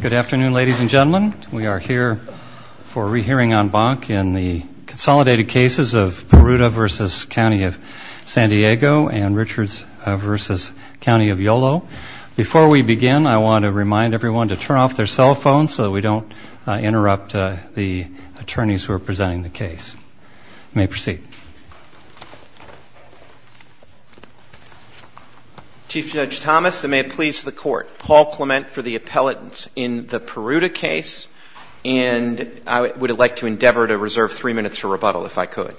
Good afternoon, ladies and gentlemen. We are here for a re-hearing on Bonk in the consolidated cases of Peruta v. County of San Diego and Richards v. County of Yolo. Before we begin, I want to remind everyone to turn off their cell phones so we don't interrupt the attorneys who are presenting the case. You may proceed. Chief Judge Thomas, and may it please the court, Paul Clement for the appellate in the Peruta case, and I would like to endeavor to reserve three minutes for rebuttal if I could.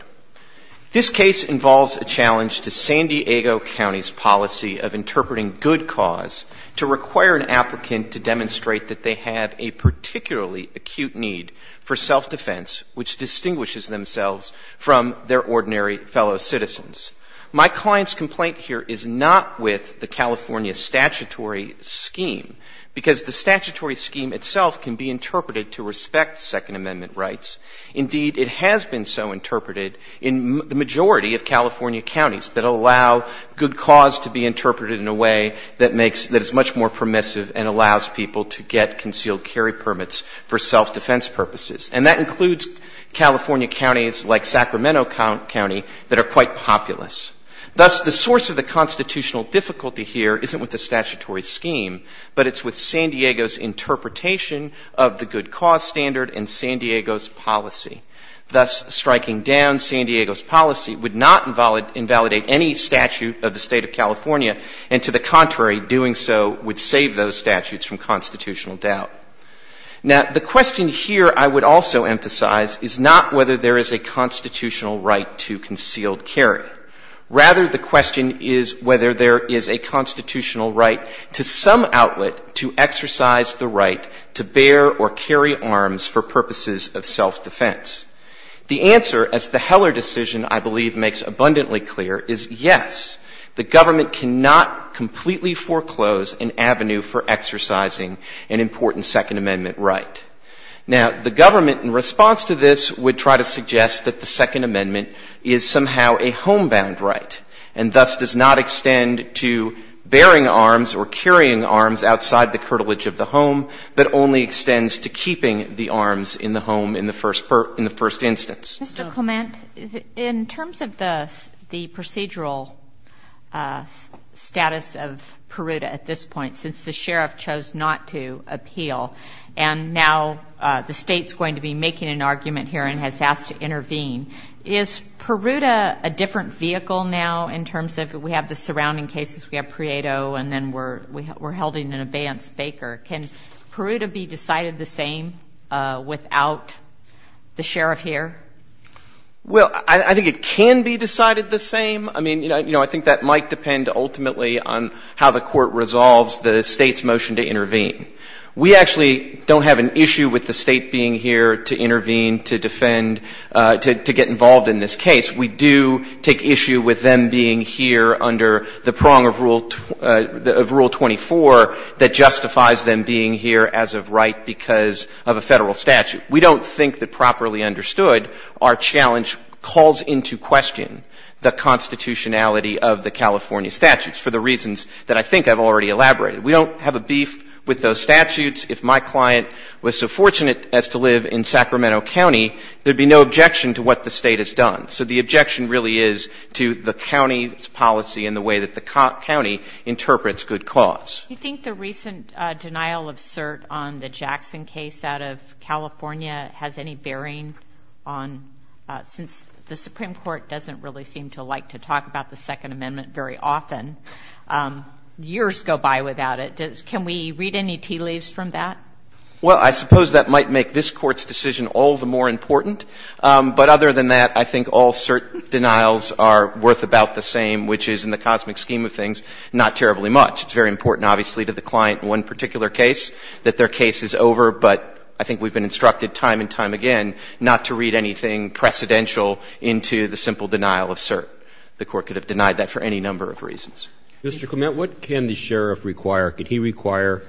This case involves a challenge to San Diego County's policy of interpreting good cause to require an applicant to demonstrate that they have a particularly acute need for self-defense, which distinguishes themselves from their ordinary fellow citizens. My client's complaint here is not with the California statutory scheme, because the statutory scheme itself can be interpreted to respect Second Amendment rights. Indeed, it has been so interpreted in the majority of California counties that allow good cause to be interpreted in a way that is much more permissive and allows people to get concealed carry permits for self-defense purposes. And that includes California counties like Sacramento County that are quite populous. Thus, the source of the constitutional difficulty here isn't with the statutory scheme, but it's with San Diego's interpretation of the good cause standard and San Diego's policy. Thus, striking down San Diego's policy would not invalidate any statute of the state of California, and to the contrary, doing so would save those statutes from constitutional doubt. Now, the question here I would also emphasize is not whether there is a constitutional right to concealed carry. Rather, the question is whether there is a constitutional right to some outlet to exercise the right to bear or carry arms for purposes of self-defense. The answer, as the Heller decision, I believe, makes abundantly clear, is yes, the government cannot completely foreclose an avenue for exercising an important Second Amendment right. Now, the government, in response to this, would try to suggest that the Second Amendment is somehow a homebound right, and thus does not extend to bearing arms or carrying arms outside the curtilage of the home, but only extends to keeping the arms in the home in the first instance. In terms of the procedural status of Peruta at this point, since the sheriff chose not to appeal, and now the state's going to be making an argument here and has asked to intervene, is Peruta a different vehicle now in terms of we have the surrounding cases, we have Prieto, and then we're holding an abeyance Baker? Can Peruta be decided the same without the sheriff here? Well, I think it can be decided the same. I mean, you know, I think that might depend ultimately on how the court resolves the state's motion to intervene. We actually don't have an issue with the state being here to intervene, to defend, to get involved in this case. We do take issue with them being here under the prong of Rule 24 that justifies them being here as of right because of a federal statute. We don't think that properly understood, our challenge calls into question the constitutionality of the California statutes for the reasons that I think I've already elaborated. We don't have a beef with those statutes. If my client was so fortunate as to live in Sacramento County, there would be no objection to what the state has done. So the objection really is to the county's policy and the way that the county interprets good cause. Do you think the recent denial of cert on the Jackson case out of California has any bearing on, since the Supreme Court doesn't really seem to like to talk about the Second Amendment very often, years go by without it. Can we read any tea leaves from that? Well, I suppose that might make this Court's decision all the more important. But other than that, I think all cert denials are worth about the same, which is in the cosmic scheme of things, not terribly much. It's very important, obviously, to the client in one particular case that their case is over, but I think we've been instructed time and time again not to read anything precedential into the simple denial of cert. Mr. Clement, what can the sheriff require? Could he require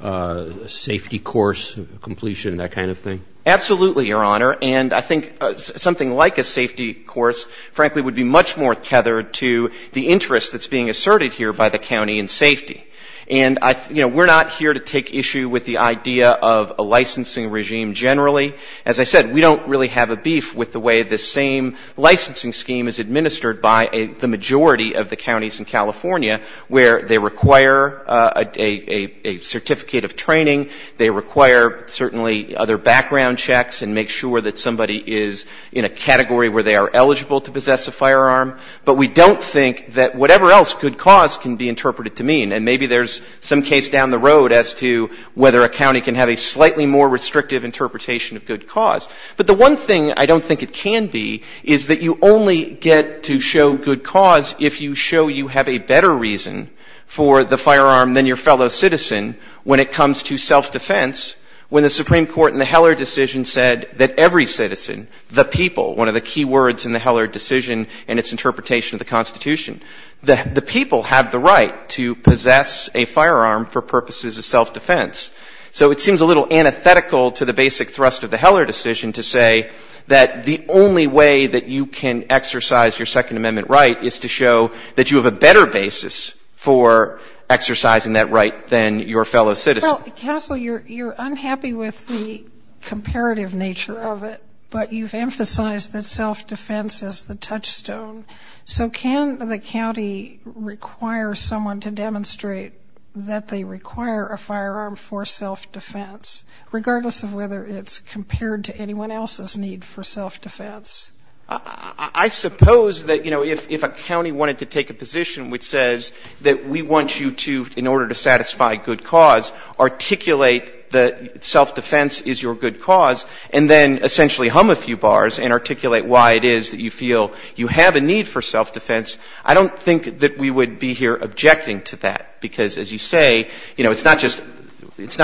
a safety course completion, that kind of thing? Absolutely, Your Honor. And I think something like a safety course, frankly, would be much more tethered to the interest that's being asserted here by the county in safety. And we're not here to take issue with the idea of a licensing regime generally. As I said, we don't really have a beef with the way this same licensing scheme is administered by the majority of the counties in California, where they require a certificate of training, they require certainly other background checks and make sure that somebody is in a category where they are eligible to possess a firearm. But we don't think that whatever else could cause can be interpreted to mean, and maybe there's some case down the road as to whether a county can have a slightly more restrictive interpretation of good cause. But the one thing I don't think it can be is that you only get to show good cause if you show you have a better reason for the firearm than your fellow citizen when it comes to self-defense, when the Supreme Court in the Heller decision said that every citizen, the people, one of the key words in the Heller decision and its interpretation of the Constitution, the people have the right to possess a firearm for purposes of self-defense. So it seems a little antithetical to the basic thrust of the Heller decision to say that the only way that you can exercise your Second Amendment right is to show that you have a better basis for exercising that right than your fellow citizen. Well, Castle, you're unhappy with the comparative nature of it, but you've emphasized that self-defense is the touchstone. So can the county require someone to demonstrate that they require a firearm for self-defense, regardless of whether it's compared to anyone else's need for self-defense? I suppose that, you know, if a county wanted to take a position which says that we want you to, in order to satisfy good cause, articulate that self-defense is your good cause, and then essentially hum a few bars and articulate why it is that you feel you have a need for self-defense, I don't think that we would be here objecting to that, because as you say, you know, it's not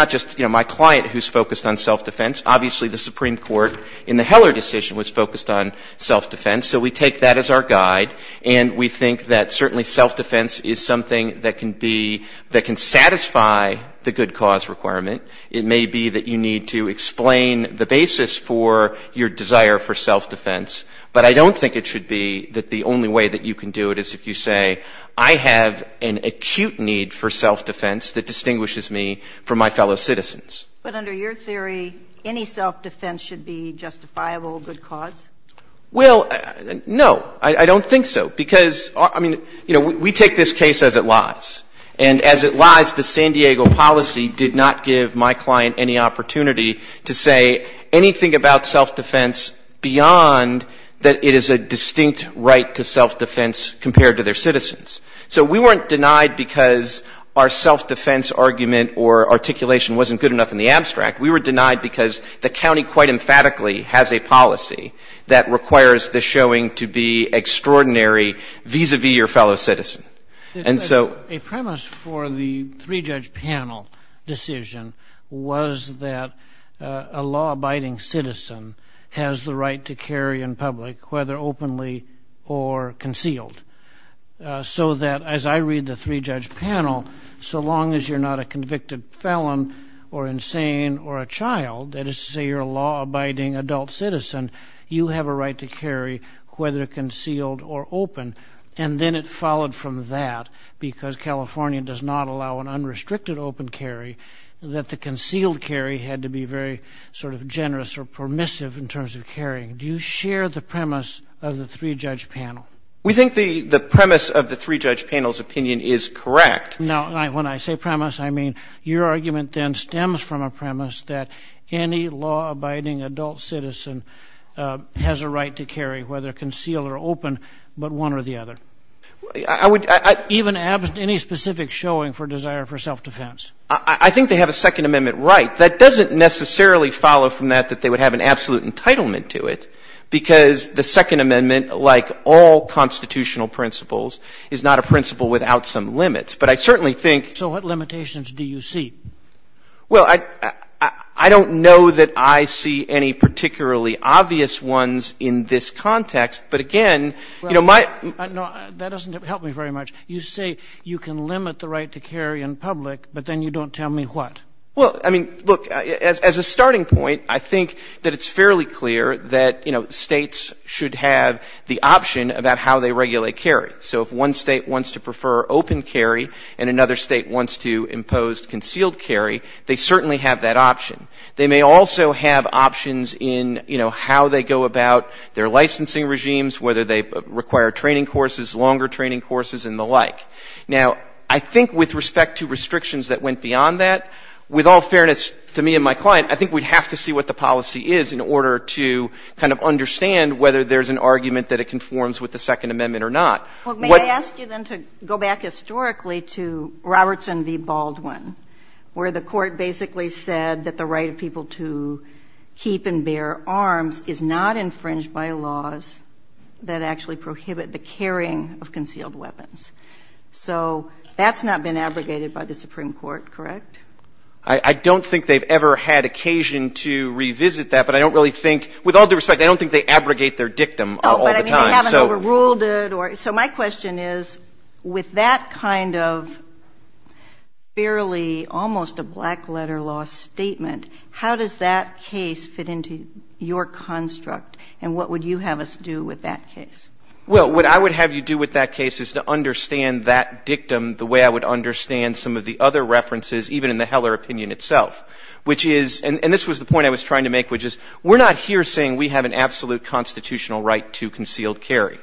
just my client who's focused on self-defense. Obviously, the Supreme Court in the Heller decision was focused on self-defense, so we take that as our guide, and we think that certainly self-defense is something that can be, that can satisfy the good cause requirement. It may be that you need to explain the basis for your desire for self-defense, but I don't think it should be that the only way that you can do it is if you say, I have an acute need for self-defense that distinguishes me from my fellow citizens. But under your theory, any self-defense should be justifiable good cause? Well, no, I don't think so, because, I mean, you know, we take this case as it lies, and as it lies, the San Diego policy did not give my client any opportunity to say anything about self-defense beyond that it is a distinct right to self-defense compared to their citizens. So we weren't denied because our self-defense argument or articulation wasn't good enough in the abstract. We were denied because the county quite emphatically has a policy that requires the showing to be extraordinary vis-a-vis your fellow citizens. A premise for the three-judge panel decision was that a law-abiding citizen has the right to carry in public, whether openly or concealed, so that, as I read the three-judge panel, so long as you're not a convicted felon or insane or a child, that is to say you're a law-abiding adult citizen, you have a right to carry whether concealed or open. And then it followed from that, because California does not allow an unrestricted open carry, that the concealed carry had to be very sort of generous or permissive in terms of carrying. Do you share the premise of the three-judge panel? We think the premise of the three-judge panel's opinion is correct. Now, when I say premise, I mean your argument then stems from a premise that any law-abiding adult citizen has a right to carry, whether concealed or open, but one or the other, even any specific showing for desire for self-defense. I think they have a Second Amendment right. That doesn't necessarily follow from that that they would have an absolute entitlement to it, because the Second Amendment, like all constitutional principles, is not a principle without some limits. But I certainly think— So what limitations do you see? Well, I don't know that I see any particularly obvious ones in this context. But again, you know, my— No, that doesn't help me very much. You say you can limit the right to carry in public, but then you don't tell me what. Well, I mean, look, as a starting point, I think that it's fairly clear that, you know, states should have the option about how they regulate carry. So if one state wants to prefer open carry and another state wants to impose concealed carry, they certainly have that option. They may also have options in, you know, how they go about their licensing regimes, whether they require training courses, longer training courses, and the like. Now, I think with respect to restrictions that went beyond that, with all fairness to me and my client, I think we'd have to see what the policy is in order to kind of understand whether there's an argument that it conforms with the Second Amendment or not. Well, may I ask you then to go back historically to Robertson v. Baldwin, where the court basically said that the right of people to keep and bear arms is not infringed by laws that actually prohibit the carrying of concealed weapons. So that's not been abrogated by the Supreme Court, correct? I don't think they've ever had occasion to revisit that, but I don't really think—with all due respect, I don't think they abrogate their dictum all the time. So my question is, with that kind of fairly almost a black letter law statement, how does that case fit into your construct, and what would you have us do with that case? Well, what I would have you do with that case is to understand that dictum the way I would understand some of the other references, even in the Heller opinion itself, which is—and this was the point I was trying to make, which is we're not here saying we have an absolute constitutional right to concealed carry.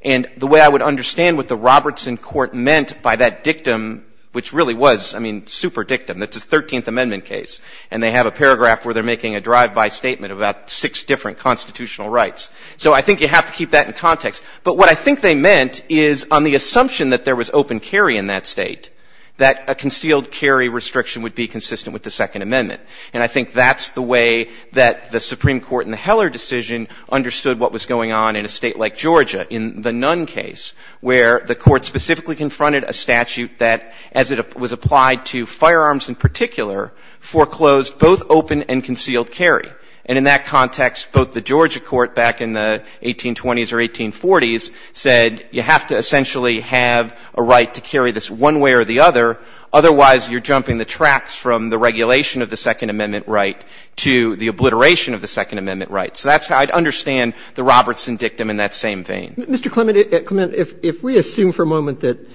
And the way I would understand what the Robertson court meant by that dictum, which really was, I mean, super dictum, it's a 13th Amendment case, and they have a paragraph where they're making a drive-by statement about six different constitutional rights. So I think you have to keep that in context. But what I think they meant is on the assumption that there was open carry in that state, that a concealed carry restriction would be consistent with the Second Amendment. And I think that's the way that the Supreme Court in the Heller decision understood what was going on in a state like Georgia, in the Nunn case, where the court specifically confronted a statute that, as it was applied to firearms in particular, foreclosed both open and concealed carry. And in that context, both the Georgia court back in the 1820s or 1840s said, you have to essentially have a right to carry this one way or the other, otherwise you're jumping the tracks from the regulation of the Second Amendment right to the obliteration of the Second Amendment right. So that's how I'd understand the Robertson dictum in that same vein. Mr. Clement, if we assume for a moment that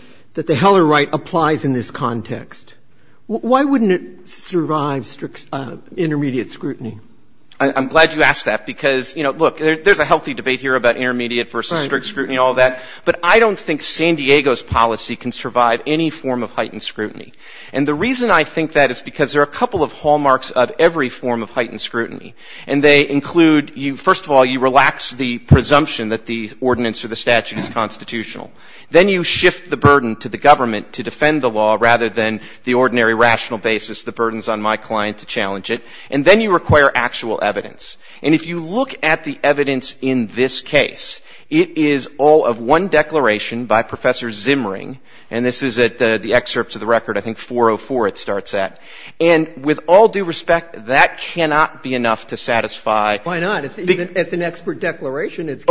the Heller right applies in this context, why wouldn't it survive intermediate scrutiny? I'm glad you asked that, because, you know, look, there's a healthy debate here about intermediate versus strict scrutiny and all that, but I don't think San Diego's policy can survive any form of heightened scrutiny. And the reason I think that is because there are a couple of hallmarks of every form of heightened scrutiny, and they include, first of all, you relax the presumption that the ordinance or the statute is constitutional. Then you shift the burden to the government to defend the law rather than the ordinary rational basis, the burdens on my client to challenge it. And then you require actual evidence. And if you look at the evidence in this case, it is all of one declaration by Professor Zimmering, and this is at the excerpts of the record, I think 404 it starts at. And with all due respect, that cannot be enough to satisfy— Why not? It's an expert declaration. It's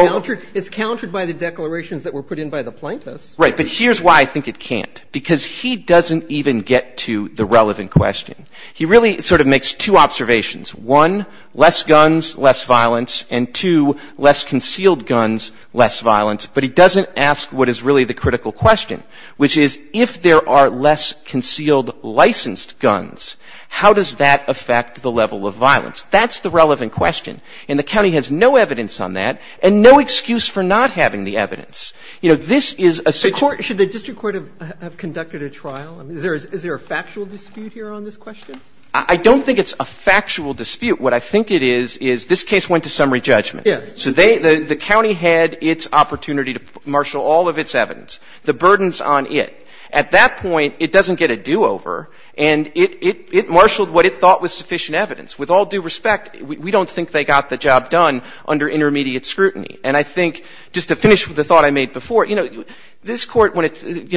countered by the declarations that were put in by the plaintiffs. Right, but here's why I think it can't, because he doesn't even get to the relevant question. He really sort of makes two observations. One, less guns, less violence, and two, less concealed guns, less violence, but he doesn't ask what is really the critical question, which is if there are less concealed licensed guns, how does that affect the level of violence? That's the relevant question, and the county has no evidence on that and no excuse for not having the evidence. You know, this is a situation— Should the district court have conducted a trial? Is there a factual dispute here on this question? I don't think it's a factual dispute. What I think it is, is this case went to summary judgment. So the county had its opportunity to marshal all of its evidence. The burden's on it. At that point, it doesn't get a do-over, and it marshaled what it thought was sufficient evidence. With all due respect, we don't think they got the job done under intermediate scrutiny. And I think, just to finish with the thought I made before, you know, the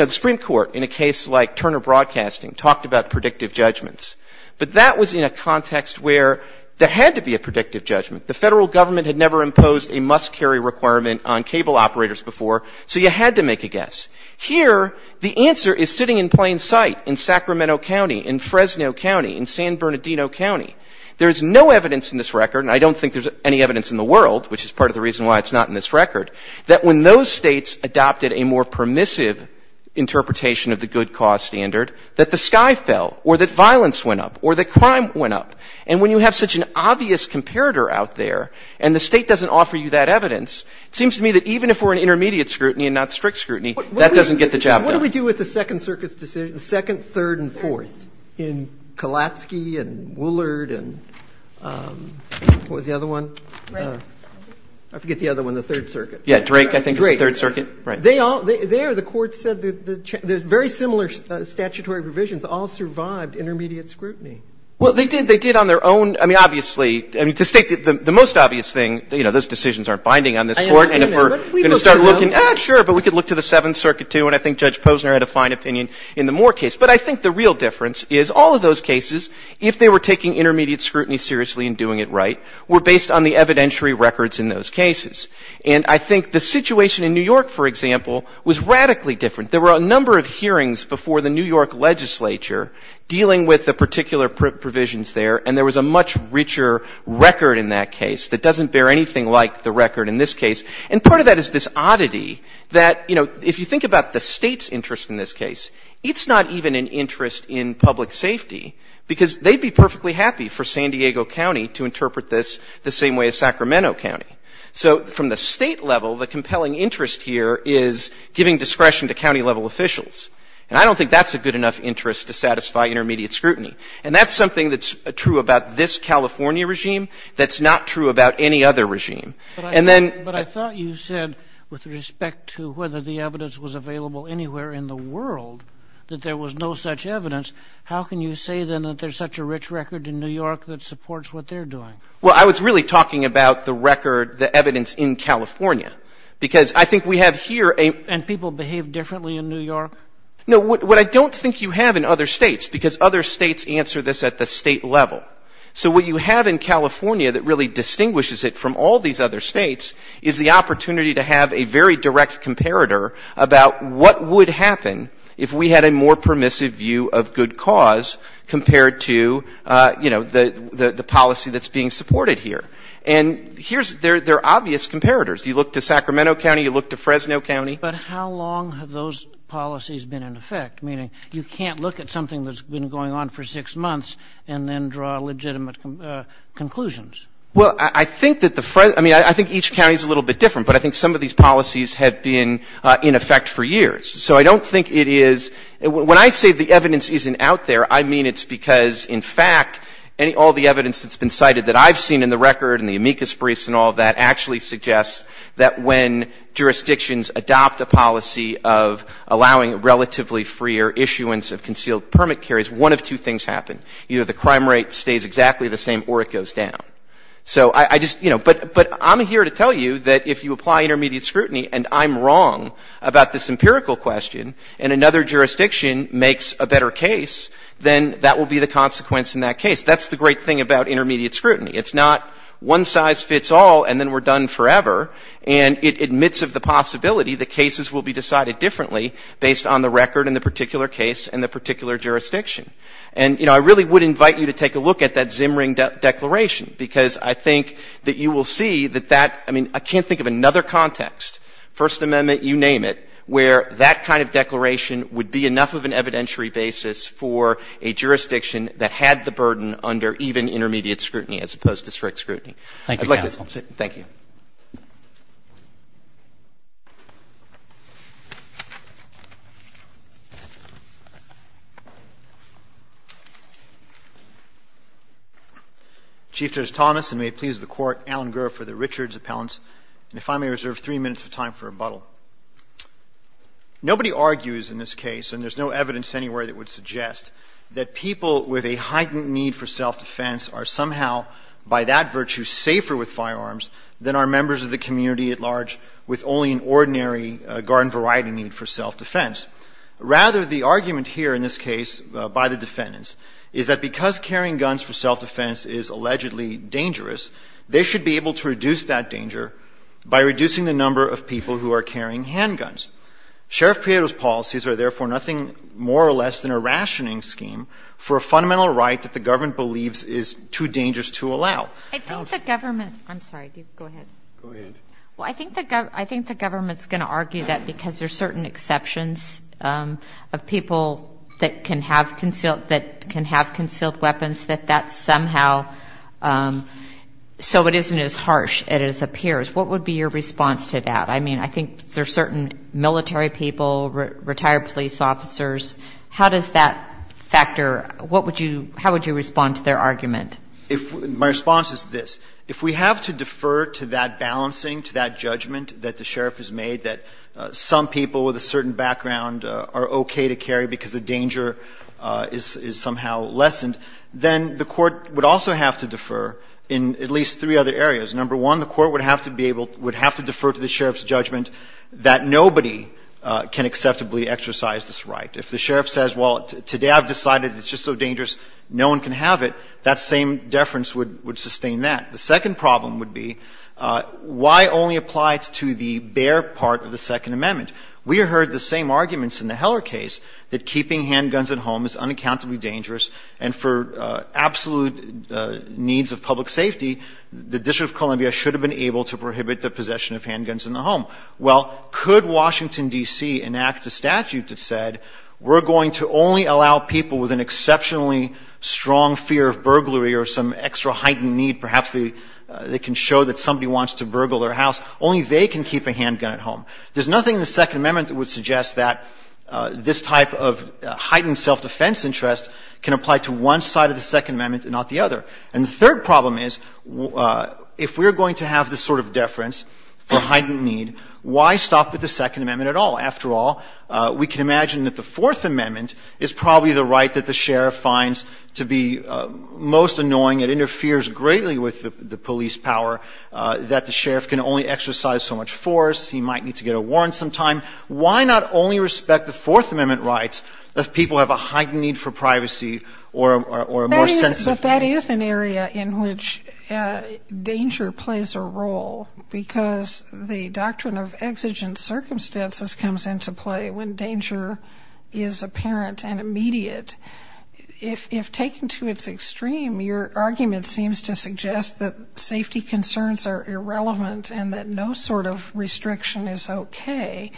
Supreme Court, in a case like Turner Broadcasting, talked about predictive judgments, but that was in a context where there had to be a predictive judgment. The federal government had never imposed a must-carry requirement on cable operators before, so you had to make a guess. Here, the answer is sitting in plain sight in Sacramento County, in Fresno County, in San Bernardino County. There's no evidence in this record, and I don't think there's any evidence in the world, which is part of the reason why it's not in this record, that when those states adopted a more permissive interpretation of the good cause standard, that the sky fell, or that violence went up, or that crime went up. And when you have such an obvious comparator out there, and the state doesn't offer you that evidence, it seems to me that even if we're in intermediate scrutiny and not strict scrutiny, that doesn't get the job done. Now, what do we do with the Second Circuit's decision, the Second, Third, and Fourth? In Kalatsky, and Woollard, and what was the other one? I forget the other one, the Third Circuit. Yeah, Drake, I think it was the Third Circuit. There, the court said that very similar statutory provisions all survived intermediate scrutiny. Well, they did on their own. I mean, obviously, the most obvious thing, you know, those decisions aren't binding on this Court, and if we're going to start looking, ah, sure, but we could look to the Seventh Circuit, too, and I think Judge Posner had a fine opinion in the Moore case. But I think the real difference is all of those cases, if they were taking intermediate scrutiny seriously and doing it right, were based on the evidentiary records in those cases. And I think the situation in New York, for example, was radically different. There were a number of hearings before the New York legislature dealing with the particular provisions there, and there was a much richer record in that case that doesn't bear anything like the record in this case. And part of that is this oddity that, you know, if you think about the state's interest in this case, it's not even an interest in public safety, because they'd be perfectly happy for San Diego County to interpret this the same way as Sacramento County. So from the state level, the compelling interest here is giving discretion to county-level officials, and I don't think that's a good enough interest to satisfy intermediate scrutiny. And that's something that's true about this California regime that's not true about any other regime. But I thought you said, with respect to whether the evidence was available anywhere in the world, that there was no such evidence. How can you say, then, that there's such a rich record in New York that supports what they're doing? Well, I was really talking about the record, the evidence in California, because I think we have here a... And people behave differently in New York? No, what I don't think you have in other states, because other states answer this at the state level. So what you have in California that really distinguishes it from all these other states is the opportunity to have a very direct comparator about what would happen if we had a more permissive view of good cause compared to the policy that's being supported here. And they're obvious comparators. You look to Sacramento County, you look to Fresno County. But how long have those policies been in effect? Meaning you can't look at something that's been going on for six months and then draw legitimate conclusions. Well, I think each county is a little bit different, but I think some of these policies have been in effect for years. So I don't think it is... When I say the evidence isn't out there, I mean it's because, in fact, all the evidence that's been cited that I've seen in the record and the amicus briefs and all that that when jurisdictions adopt a policy of allowing relatively freer issuance of concealed permit carriers, one of two things happen. Either the crime rate stays exactly the same or it goes down. But I'm here to tell you that if you apply intermediate scrutiny and I'm wrong about this empirical question and another jurisdiction makes a better case, then that will be the consequence in that case. That's the great thing about intermediate scrutiny. It's not one size fits all and then we're done forever, and it admits of the possibility that cases will be decided differently based on the record in the particular case and the particular jurisdiction. And I really would invite you to take a look at that Zimring Declaration because I think that you will see that that... I mean, I can't think of another context, First Amendment, you name it, where that kind of declaration would be enough of an evidentiary basis for a jurisdiction that had the burden under even intermediate scrutiny as opposed to strict scrutiny. I'd like to... Thank you, counsel. Thank you. Chief Justice Thomas, and may it please the Court, Alan Gura for the Richards Appellants, and if I may reserve three minutes of time for rebuttal. Nobody argues in this case, and there's no evidence anywhere that would suggest, that people with a heightened need for self-defense are somehow by that virtue safer with firearms than are members of the community at large with only an ordinary garden variety need for self-defense. Rather, the argument here in this case by the defendants is that because carrying guns for self-defense is allegedly dangerous, they should be able to reduce that danger by reducing the number of people who are carrying handguns. Sheriff Prieto's policies are therefore nothing more or less than a rationing scheme for a fundamental right that the government believes is too dangerous to allow. I think the government... I'm sorry. Go ahead. Go ahead. Well, I think the government's going to argue that because there's certain exceptions of people that can have concealed weapons, that that somehow... So it isn't as harsh as it appears. What would be your response to that? I mean, I think there's certain military people, retired police officers. How does that factor... How would you respond to their argument? My response is this. If we have to defer to that balancing, to that judgment that the sheriff has made that some people with a certain background are okay to carry because the danger is somehow lessened, then the court would also have to defer in at least three other areas. Number one, the court would have to defer to the sheriff's judgment that nobody can acceptably exercise this right. If the sheriff says, well, today I've decided it's just so dangerous, no one can have it, that same deference would sustain that. The second problem would be why only apply it to the bare part of the Second Amendment? We heard the same arguments in the Heller case, that keeping handguns at home is unaccountably dangerous and for absolute needs of public safety, the District of Columbia should have been able to prohibit the possession of handguns in the home. Well, could Washington, D.C. enact a statute that said we're going to only allow people with an exceptionally strong fear of burglary or some extra heightened need perhaps that can show that somebody wants to burgle their house, only they can keep a handgun at home. There's nothing in the Second Amendment that would suggest that this type of heightened self-defense interest can apply to one side of the Second Amendment and not the other. And the third problem is if we're going to have this sort of deference or heightened need, why stop with the Second Amendment at all? After all, we can imagine that the Fourth Amendment is probably the right that the sheriff finds to be most annoying. It interferes greatly with the police power, that the sheriff can only exercise so much force, he might need to get a warrant sometime. Why not only respect the Fourth Amendment rights if people have a heightened need for privacy or a more sensitive... But that is an area in which danger plays a role because the doctrine of exigent circumstances comes into play when danger is apparent and immediate. If taken to its extreme, your argument seems to suggest that safety concerns are irrelevant and that no sort of restriction is okay.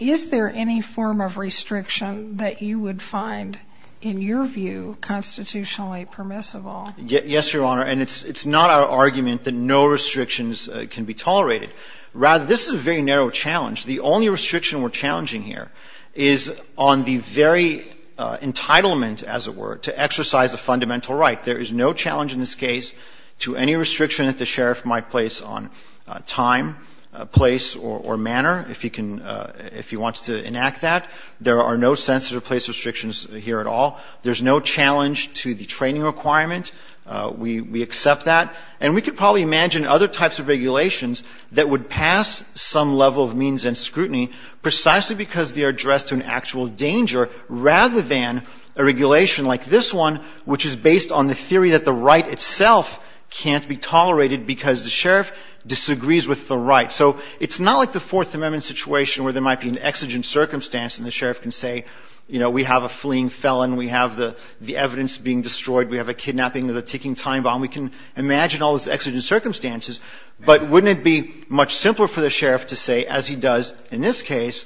Is there any form of restriction that you would find, in your view, constitutionally permissible? Yes, Your Honor. And it's not our argument that no restrictions can be tolerated. Rather, this is a very narrow challenge. The only restriction we're challenging here is on the very entitlement, as it were, to exercise a fundamental right. There is no challenge in this case to any restriction that the sheriff might place on time, place, or manner, if he wants to enact that. There are no sensitive place restrictions here at all. There's no challenge to the training requirement. We accept that. And we could probably imagine other types of regulations that would pass some level of means and scrutiny precisely because they are addressed to an actual danger rather than a regulation like this one, which is based on the theory that the right itself can't be tolerated because the sheriff disagrees with the right. So it's not like the Fourth Amendment situation where there might be an exigent circumstance and the sheriff can say, you know, we have a fleeing felon, we have the evidence being destroyed, we have a kidnapping of a ticking time bomb. We can imagine all those exigent circumstances. But wouldn't it be much simpler for the sheriff to say, as he does in this case,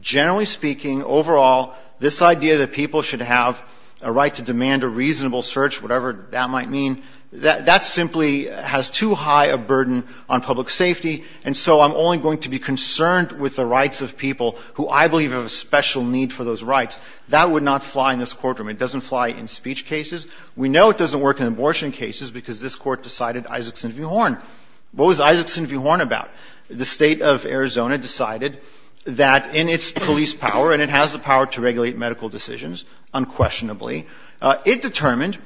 generally speaking, overall, this idea that people should have a right to demand a reasonable search, whatever that might mean, that simply has too high a burden on public safety, and so I'm only going to be concerned with the rights of people who I believe have a special need for those rights. That would not fly in this courtroom. It doesn't fly in speech cases. We know it doesn't work in abortion cases because this court decided Isaacson v. Horn. What was Isaacson v. Horn about? The state of Arizona decided that in its police power, and it has the power to regulate medical decisions unquestionably, it determined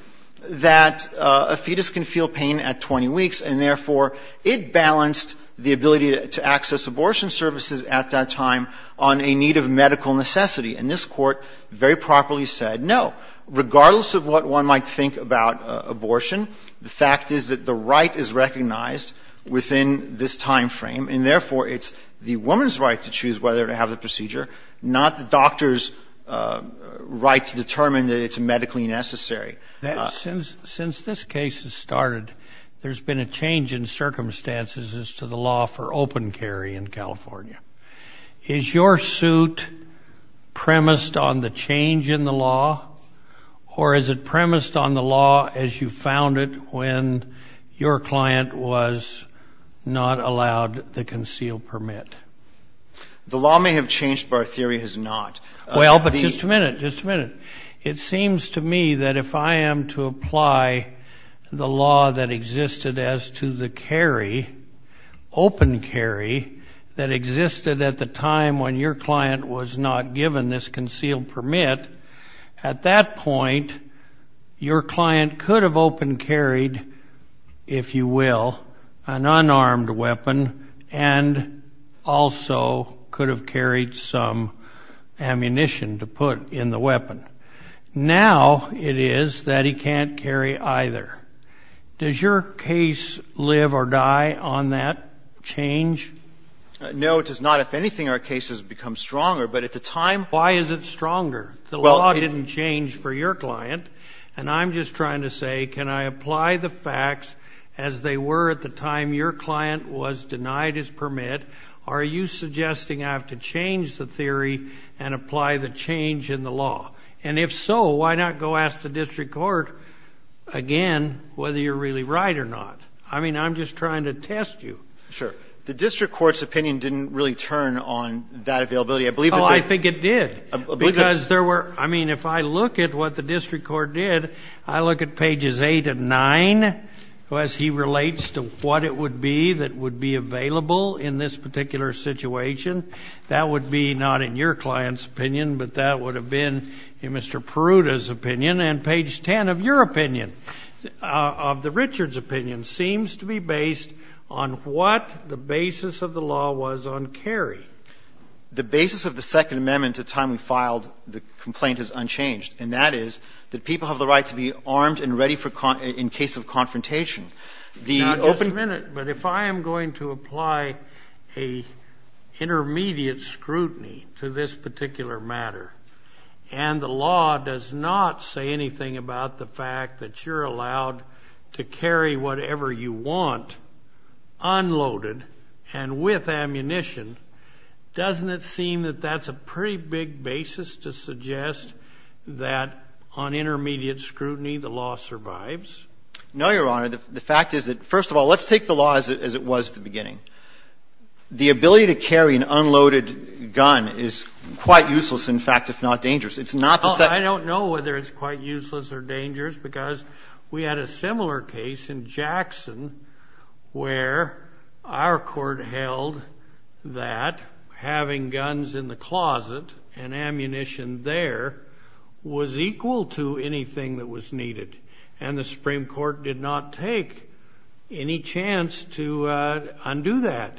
that a fetus can feel pain at 20 weeks and therefore it balanced the ability to access abortion services at that time on a need of medical necessity, and this court very properly said, no, regardless of what one might think about abortion, the fact is that the right is recognized within this time frame and therefore it's the woman's right to choose whether to have the procedure, not the doctor's right to determine that it's medically necessary. Since this case has started, there's been a change in circumstances as to the law for open carry in California. Is your suit premised on the change in the law, or is it premised on the law as you found it when your client was not allowed the concealed permit? The law may have changed, but our theory has not. Well, but just a minute, just a minute. It seems to me that if I am to apply the law that existed as to the carry, open carry that existed at the time when your client was not given this concealed permit, at that point your client could have open carried, if you will, an unarmed weapon and also could have carried some ammunition to put in the weapon. Now it is that he can't carry either. Does your case live or die on that change? No, it does not. If anything, our case has become stronger. But at the time, why is it stronger? The law didn't change for your client, and I'm just trying to say can I apply the facts as they were at the time your client was denied his permit? Are you suggesting I have to change the theory and apply the change in the law? And if so, why not go ask the district court again whether you're really right or not? I mean, I'm just trying to test you. Sure. The district court's opinion didn't really turn on that availability. I believe it did. Oh, I think it did. I mean, if I look at what the district court did, I look at pages 8 and 9, as he relates to what it would be that would be available in this particular situation. That would be not in your client's opinion, but that would have been in Mr. Peruta's opinion. And page 10 of your opinion, of the Richards' opinion, seems to be based on what the basis of the law was on carry. The basis of the Second Amendment at the time we filed the complaint is unchanged, and that is that people have the right to be armed and ready in case of confrontation. Now, just a minute. But if I am going to apply an intermediate scrutiny to this particular matter, and the law does not say anything about the fact that you're allowed to carry whatever you want unloaded and with ammunition, doesn't it seem that that's a pretty big basis to suggest that on intermediate scrutiny the law survives? No, Your Honor. The fact is that, first of all, let's take the law as it was at the beginning. The ability to carry an unloaded gun is quite useless, in fact. It's not dangerous. I don't know whether it's quite useless or dangerous because we had a similar case in Jackson where our court held that having guns in the closet and ammunition there was equal to anything that was needed. And the Supreme Court did not take any chance to undo that.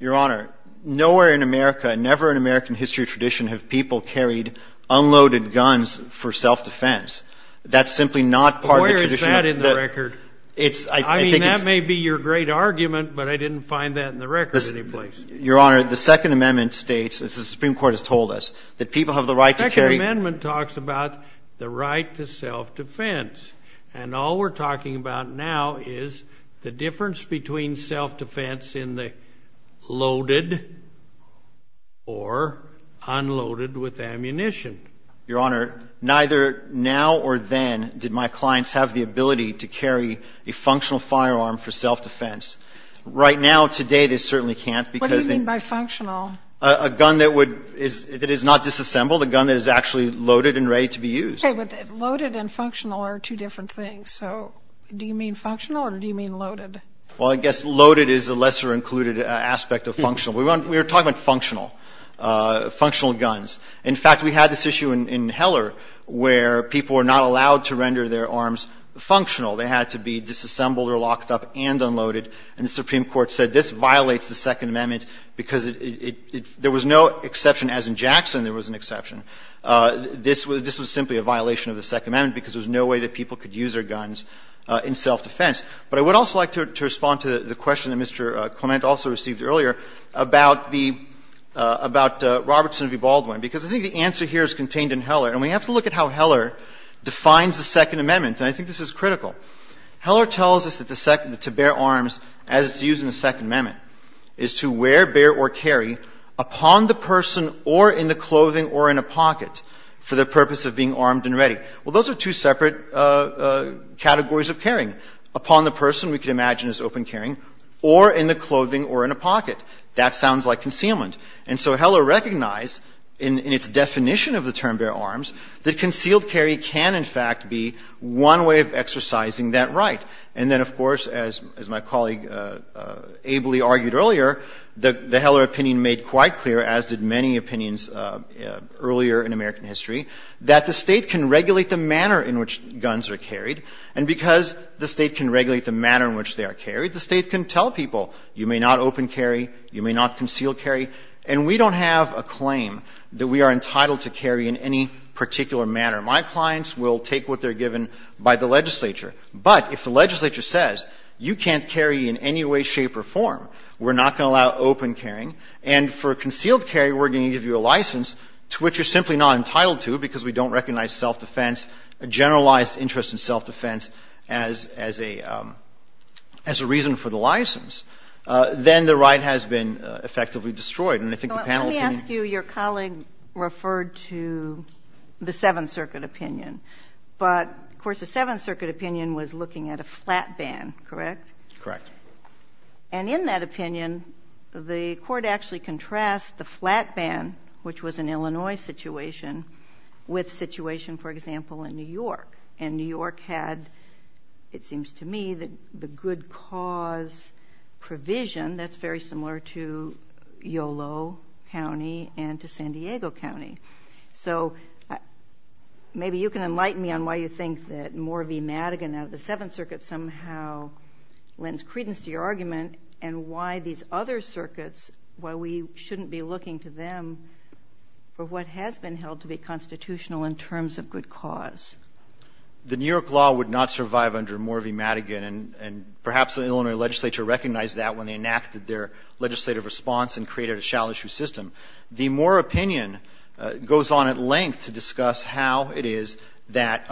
Your Honor, nowhere in America, never in American history or tradition, have people carried unloaded guns for self-defense. That's simply not part of the tradition. Why is that in the record? I mean, that may be your great argument, but I didn't find that in the record in any place. Your Honor, the Second Amendment states, as the Supreme Court has told us, that people have the right to carry- The Second Amendment talks about the right to self-defense. And all we're talking about now is the difference between self-defense in the loaded or unloaded with ammunition. Your Honor, neither now or then did my clients have the ability to carry a functional firearm for self-defense. Right now, today, they certainly can't because- What do you mean by functional? A gun that is not disassembled, a gun that is actually loaded and ready to be used. Okay, but loaded and functional are two different things. So do you mean functional or do you mean loaded? Well, I guess loaded is a lesser included aspect of functional. We were talking about functional, functional guns. In fact, we had this issue in Heller where people were not allowed to render their arms functional. They had to be disassembled or locked up and unloaded. And the Supreme Court said this violates the Second Amendment because there was no exception. As in Jackson, there was an exception. This was simply a violation of the Second Amendment because there was no way that people could use their guns in self-defense. But I would also like to respond to the question that Mr. Clement also received earlier about Robertson v. Baldwin because I think the answer here is contained in Heller. And we have to look at how Heller defines the Second Amendment, and I think this is critical. Heller tells us that to bear arms, as it's used in the Second Amendment, is to wear, bear, or carry upon the person or in the clothing or in a pocket for the purpose of being armed and ready. Well, those are two separate categories of carrying. Upon the person, we can imagine as open carrying, or in the clothing or in a pocket. That sounds like concealment. And so Heller recognized in its definition of the term bear arms that concealed carry can, in fact, be one way of exercising that right. And then, of course, as my colleague ably argued earlier, the Heller opinion made quite clear, as did many opinions earlier in American history, that the state can regulate the manner in which guns are carried. And because the state can regulate the manner in which they are carried, the state can tell people, you may not open carry, you may not conceal carry. And we don't have a claim that we are entitled to carry in any particular manner. My clients will take what they're given by the legislature. But if the legislature says, you can't carry in any way, shape, or form, we're not going to allow open carrying. And for concealed carry, we're going to give you a license to which you're simply not entitled to because we don't recognize self-defense, a generalized interest in self-defense as a reason for the license. Then the right has been effectively destroyed. Let me ask you, your colleague referred to the Seventh Circuit opinion. But, of course, the Seventh Circuit opinion was looking at a flat ban, correct? Correct. And in that opinion, the court actually contrasts the flat ban, which was an Illinois situation, with a situation, for example, in New York. And New York had, it seems to me, the good cause provision that's very similar to Yolo County and to San Diego County. So maybe you can enlighten me on why you think that Moore v. Madigan out of the Seventh Circuit somehow lends credence to your argument and why these other circuits, why we shouldn't be looking to them for what has been held to be constitutional in terms of good cause. The New York law would not survive under Moore v. Madigan, and perhaps the Illinois legislature recognized that when they enacted their legislative response and created a shall issue system. The Moore opinion goes on at length to discuss how it is that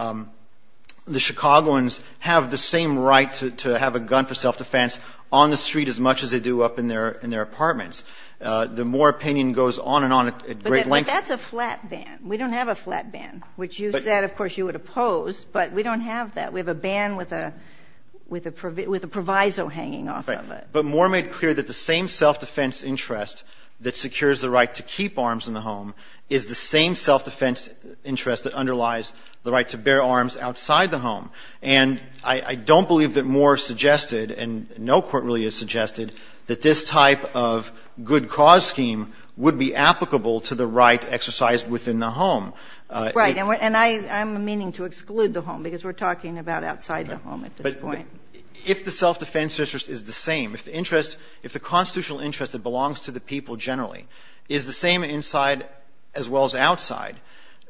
the Chicagoans have the same right to have a gun for self-defense on the street as much as they do up in their apartments. The Moore opinion goes on and on at great length. But that's a flat ban. We don't have a flat ban, which you said, of course, you would oppose. But we don't have that. We have a ban with a proviso hanging off of it. But Moore made clear that the same self-defense interest that secures the right to keep arms in the home is the same self-defense interest that underlies the right to bear arms outside the home. And I don't believe that Moore suggested, and no court really has suggested, that this type of good cause scheme would be applicable to the right exercised within the home. Right. And I'm meaning to exclude the home because we're talking about outside the home at this point. If the self-defense interest is the same, if the constitutional interest that belongs to the people generally is the same inside as well as outside,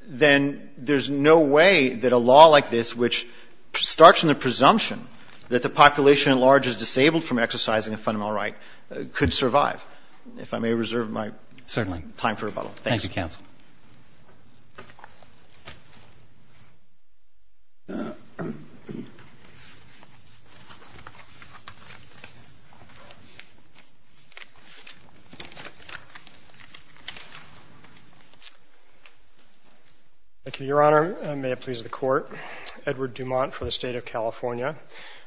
then there's no way that a law like this, which starts from the presumption that the population at large is disabled from exercising a fundamental right, could survive. If I may reserve my time for rebuttal. Thank you, counsel. Thank you, Your Honor. May it please the court. Edward Dumont for the State of California.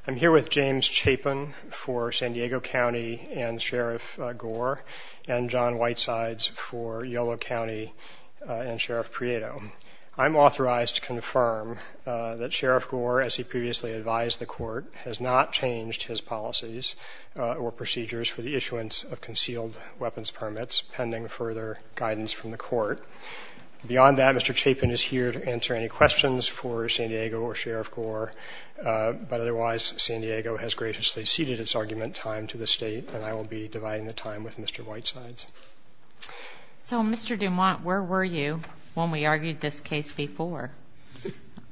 I'm here with James Chapin for San Diego County and Sheriff Gore, and John Whitesides for Yolo County and Sheriff Prieto. I'm authorized to confirm that Sheriff Gore, as he previously advised the court, has not changed his policies or procedures for the issuance of concealed weapons permits, pending further guidance from the court. Beyond that, Mr. Chapin is here to answer any questions for San Diego or Sheriff Gore. Otherwise, San Diego has graciously ceded its argument time to the state, and I will be dividing the time with Mr. Whitesides. So, Mr. Dumont, where were you when we argued this case before?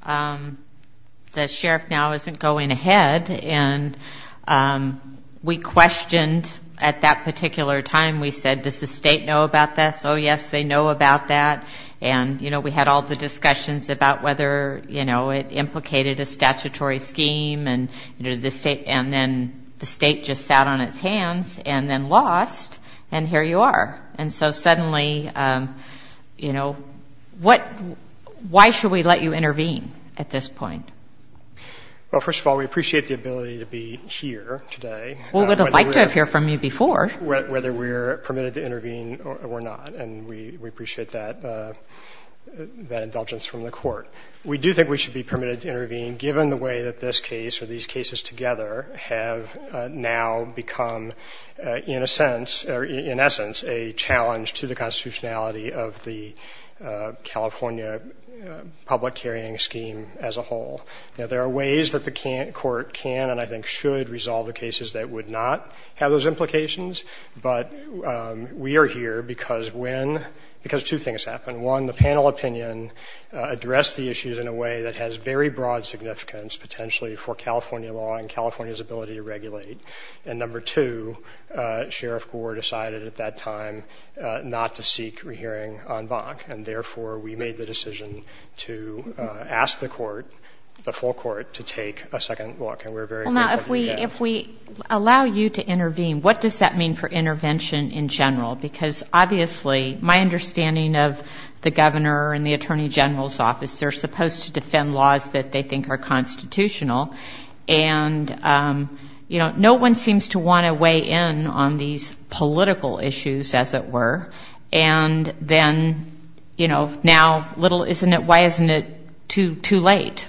The sheriff now isn't going ahead, and we questioned at that particular time. We said, does the state know about that? Oh, yes, they know about that. And, you know, we had all the discussions about whether, you know, it implicated a statutory scheme, and then the state just sat on its hands and then lost, and here you are. And so suddenly, you know, why should we let you intervene at this point? Well, first of all, we appreciate the ability to be here today. We would have liked to have heard from you before. Whether we're permitted to intervene or not, and we appreciate that indulgence from the court. We do think we should be permitted to intervene, given the way that this case or these cases together have now become, in a sense, or in essence, a challenge to the constitutionality of the California public hearing scheme as a whole. Now, there are ways that the court can and I think should resolve the cases that would not have those implications, but we are here because when, because two things happen. One, the panel opinion addressed the issues in a way that has very broad significance, potentially for California law and California's ability to regulate. And number two, Sheriff Gore decided at that time not to seek a hearing on Bonk, and therefore we made the decision to ask the court, the full court, to take a second look. And we're very grateful for that. Well, now, if we allow you to intervene, what does that mean for intervention in general? Because, obviously, my understanding of the governor and the attorney general's office, they're supposed to defend laws that they think are constitutional. And, you know, no one seems to want to weigh in on these political issues, as it were. And then, you know, now, little, isn't it, why isn't it too late?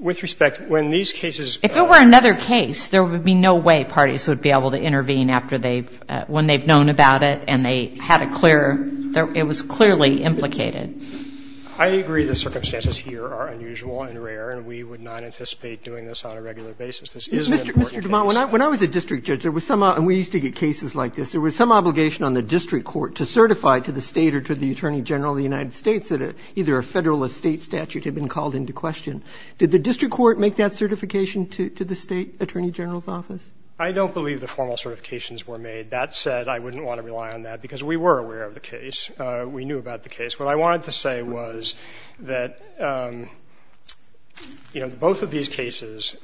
With respect, when these cases. If there were another case, there would be no way parties would be able to intervene after they've, when they've known about it and they had a clear, it was clearly implicated. I agree the circumstances here are unusual and rare, and we would not anticipate doing this on a regular basis because this is an important case. Mr. DuMont, when I was a district judge, there was some, and we used to get cases like this, there was some obligation on the district court to certify to the state or to the attorney general of the United States that either a federal or state statute had been called into question. Did the district court make that certification to the state attorney general's office? I don't believe the formal certifications were made. That said, I wouldn't want to rely on that because we were aware of the case. We knew about the case. What I wanted to say was that, you know, both of these cases,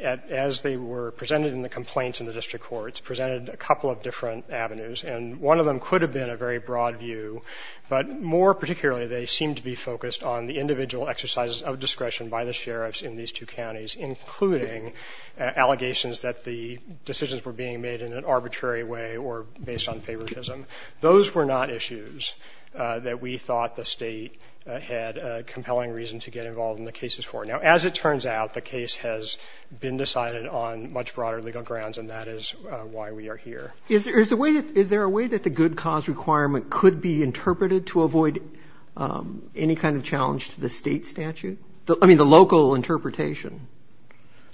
as they were presented in the complaints in the district courts, presented a couple of different avenues. And one of them could have been a very broad view, but more particularly they seemed to be focused on the individual exercises of discretion by the sheriffs in these two counties, including allegations that the decisions were being made in an arbitrary way or based on favoritism. Those were not issues that we thought the state had a compelling reason to get involved in the cases for. Now, as it turns out, the case has been decided on much broader legal grounds, and that is why we are here. Is there a way that the good cause requirement could be interpreted to avoid any kind of challenge to the state statute? I mean, the local interpretation.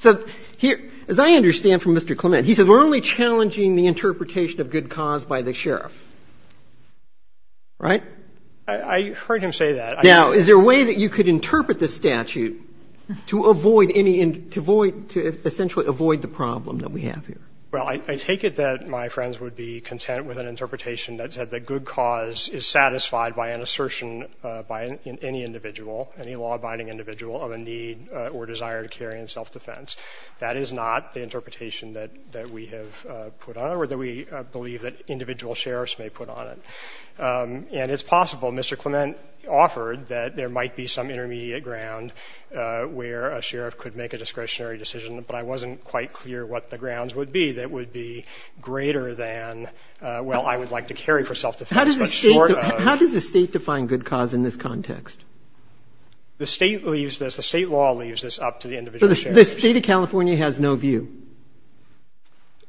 As I understand from Mr. Clement, he says we're only challenging the interpretation of good cause by the sheriff. Right? I heard him say that. Now, is there a way that you could interpret the statute to essentially avoid the problem that we have here? Well, I take it that my friends would be content with an interpretation that said that good cause is satisfied by an assertion by any individual, any law-abiding individual of a need or desire to carry on self-defense. That is not the interpretation that we have put on, or that we believe that individual sheriffs may put on. And it's possible, Mr. Clement offered, that there might be some intermediate ground where a sheriff could make a discretionary decision, but I wasn't quite clear what the grounds would be that would be greater than, well, I would like to carry for self-defense, but shorter. How does the state define good cause in this context? The state leaves this, the state law leaves this up to the individual sheriff. So the state of California has no view?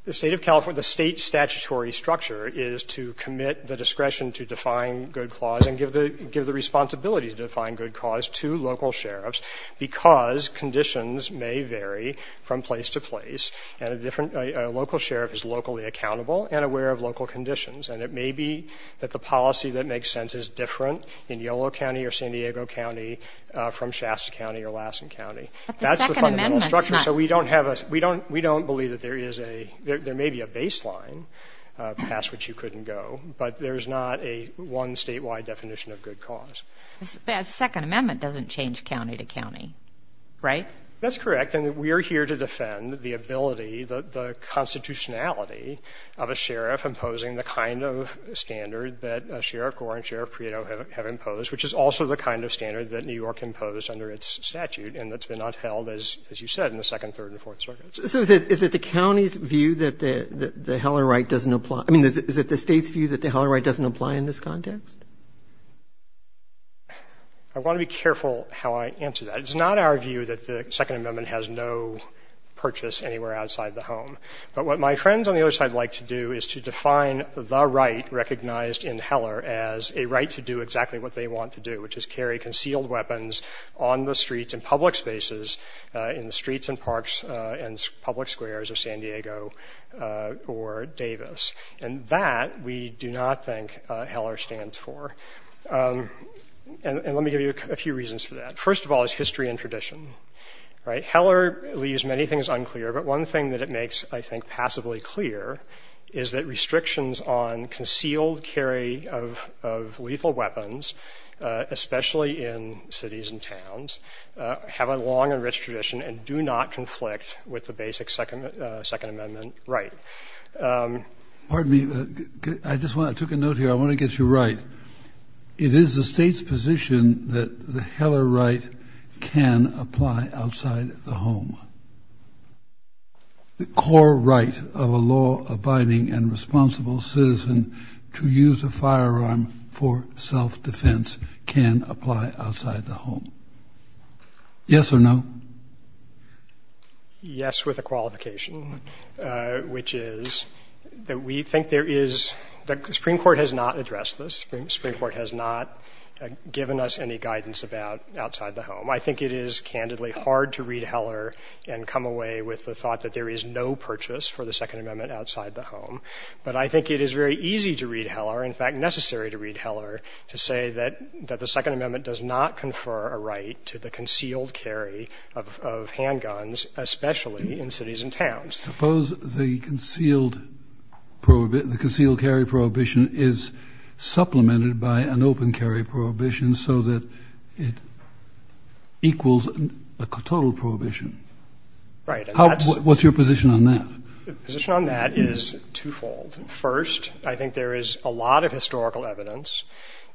The state of California, the state statutory structure is to commit the discretion to define good cause and give the responsibility to define good cause to local sheriffs because conditions may vary from place to place, and a local sheriff is locally accountable and aware of local conditions. And it may be that the policy that makes sense is different in Yolo County or San Diego County from Shasta County or Lassen County. That's the fundamental structure, so we don't believe that there is a, there may be a baseline past which you couldn't go, but there's not a one statewide definition of good cause. The Second Amendment doesn't change county to county, right? That's correct, and we are here to defend the ability, the constitutionality of a sheriff imposing the kind of standard that Sheriff Gorin, Sheriff Prieto have imposed, which is also the kind of standard that New York imposed under its statute, and that's been upheld, as you said, in the Second, Third, and Fourth Circuits. So is it the county's view that the Heller right doesn't apply? I mean, is it the state's view that the Heller right doesn't apply in this context? I want to be careful how I answer that. It's not our view that the Second Amendment has no purchase anywhere outside the home, but what my friends on the other side like to do is to define the right recognized in Heller as a right to do exactly what they want to do, which is carry concealed weapons on the streets and public spaces in the streets and parks and public squares of San Diego or Davis. And that we do not think Heller stands for. And let me give you a few reasons for that. First of all, it's history and tradition, right? Heller leaves many things unclear. But one thing that it makes, I think, passably clear is that restrictions on concealed carry of lethal weapons, especially in cities and towns, have a long and rich tradition and do not conflict with the basic Second Amendment right. Pardon me. I just took a note here. I want to get you right. It is the state's position that the Heller right can apply outside the home. The core right of a law abiding and responsible citizen to use a firearm for self-defense can apply outside the home. Yes or no. Yes. With a qualification, which is that we think there is the Supreme Court has not addressed this. The Supreme Court has not given us any guidance about outside the home. I think it is candidly hard to read Heller and come away with the thought that there is no purchase for the Second Amendment outside the home. But I think it is very easy to read Heller, in fact, necessary to read Heller, to say that the Second Amendment does not confer a right to the concealed carry of handguns, especially in cities and towns. Suppose the concealed carry prohibition is supplemented by an open carry prohibition so that it equals a total prohibition. Right. What's your position on that? The position on that is twofold. First, I think there is a lot of historical evidence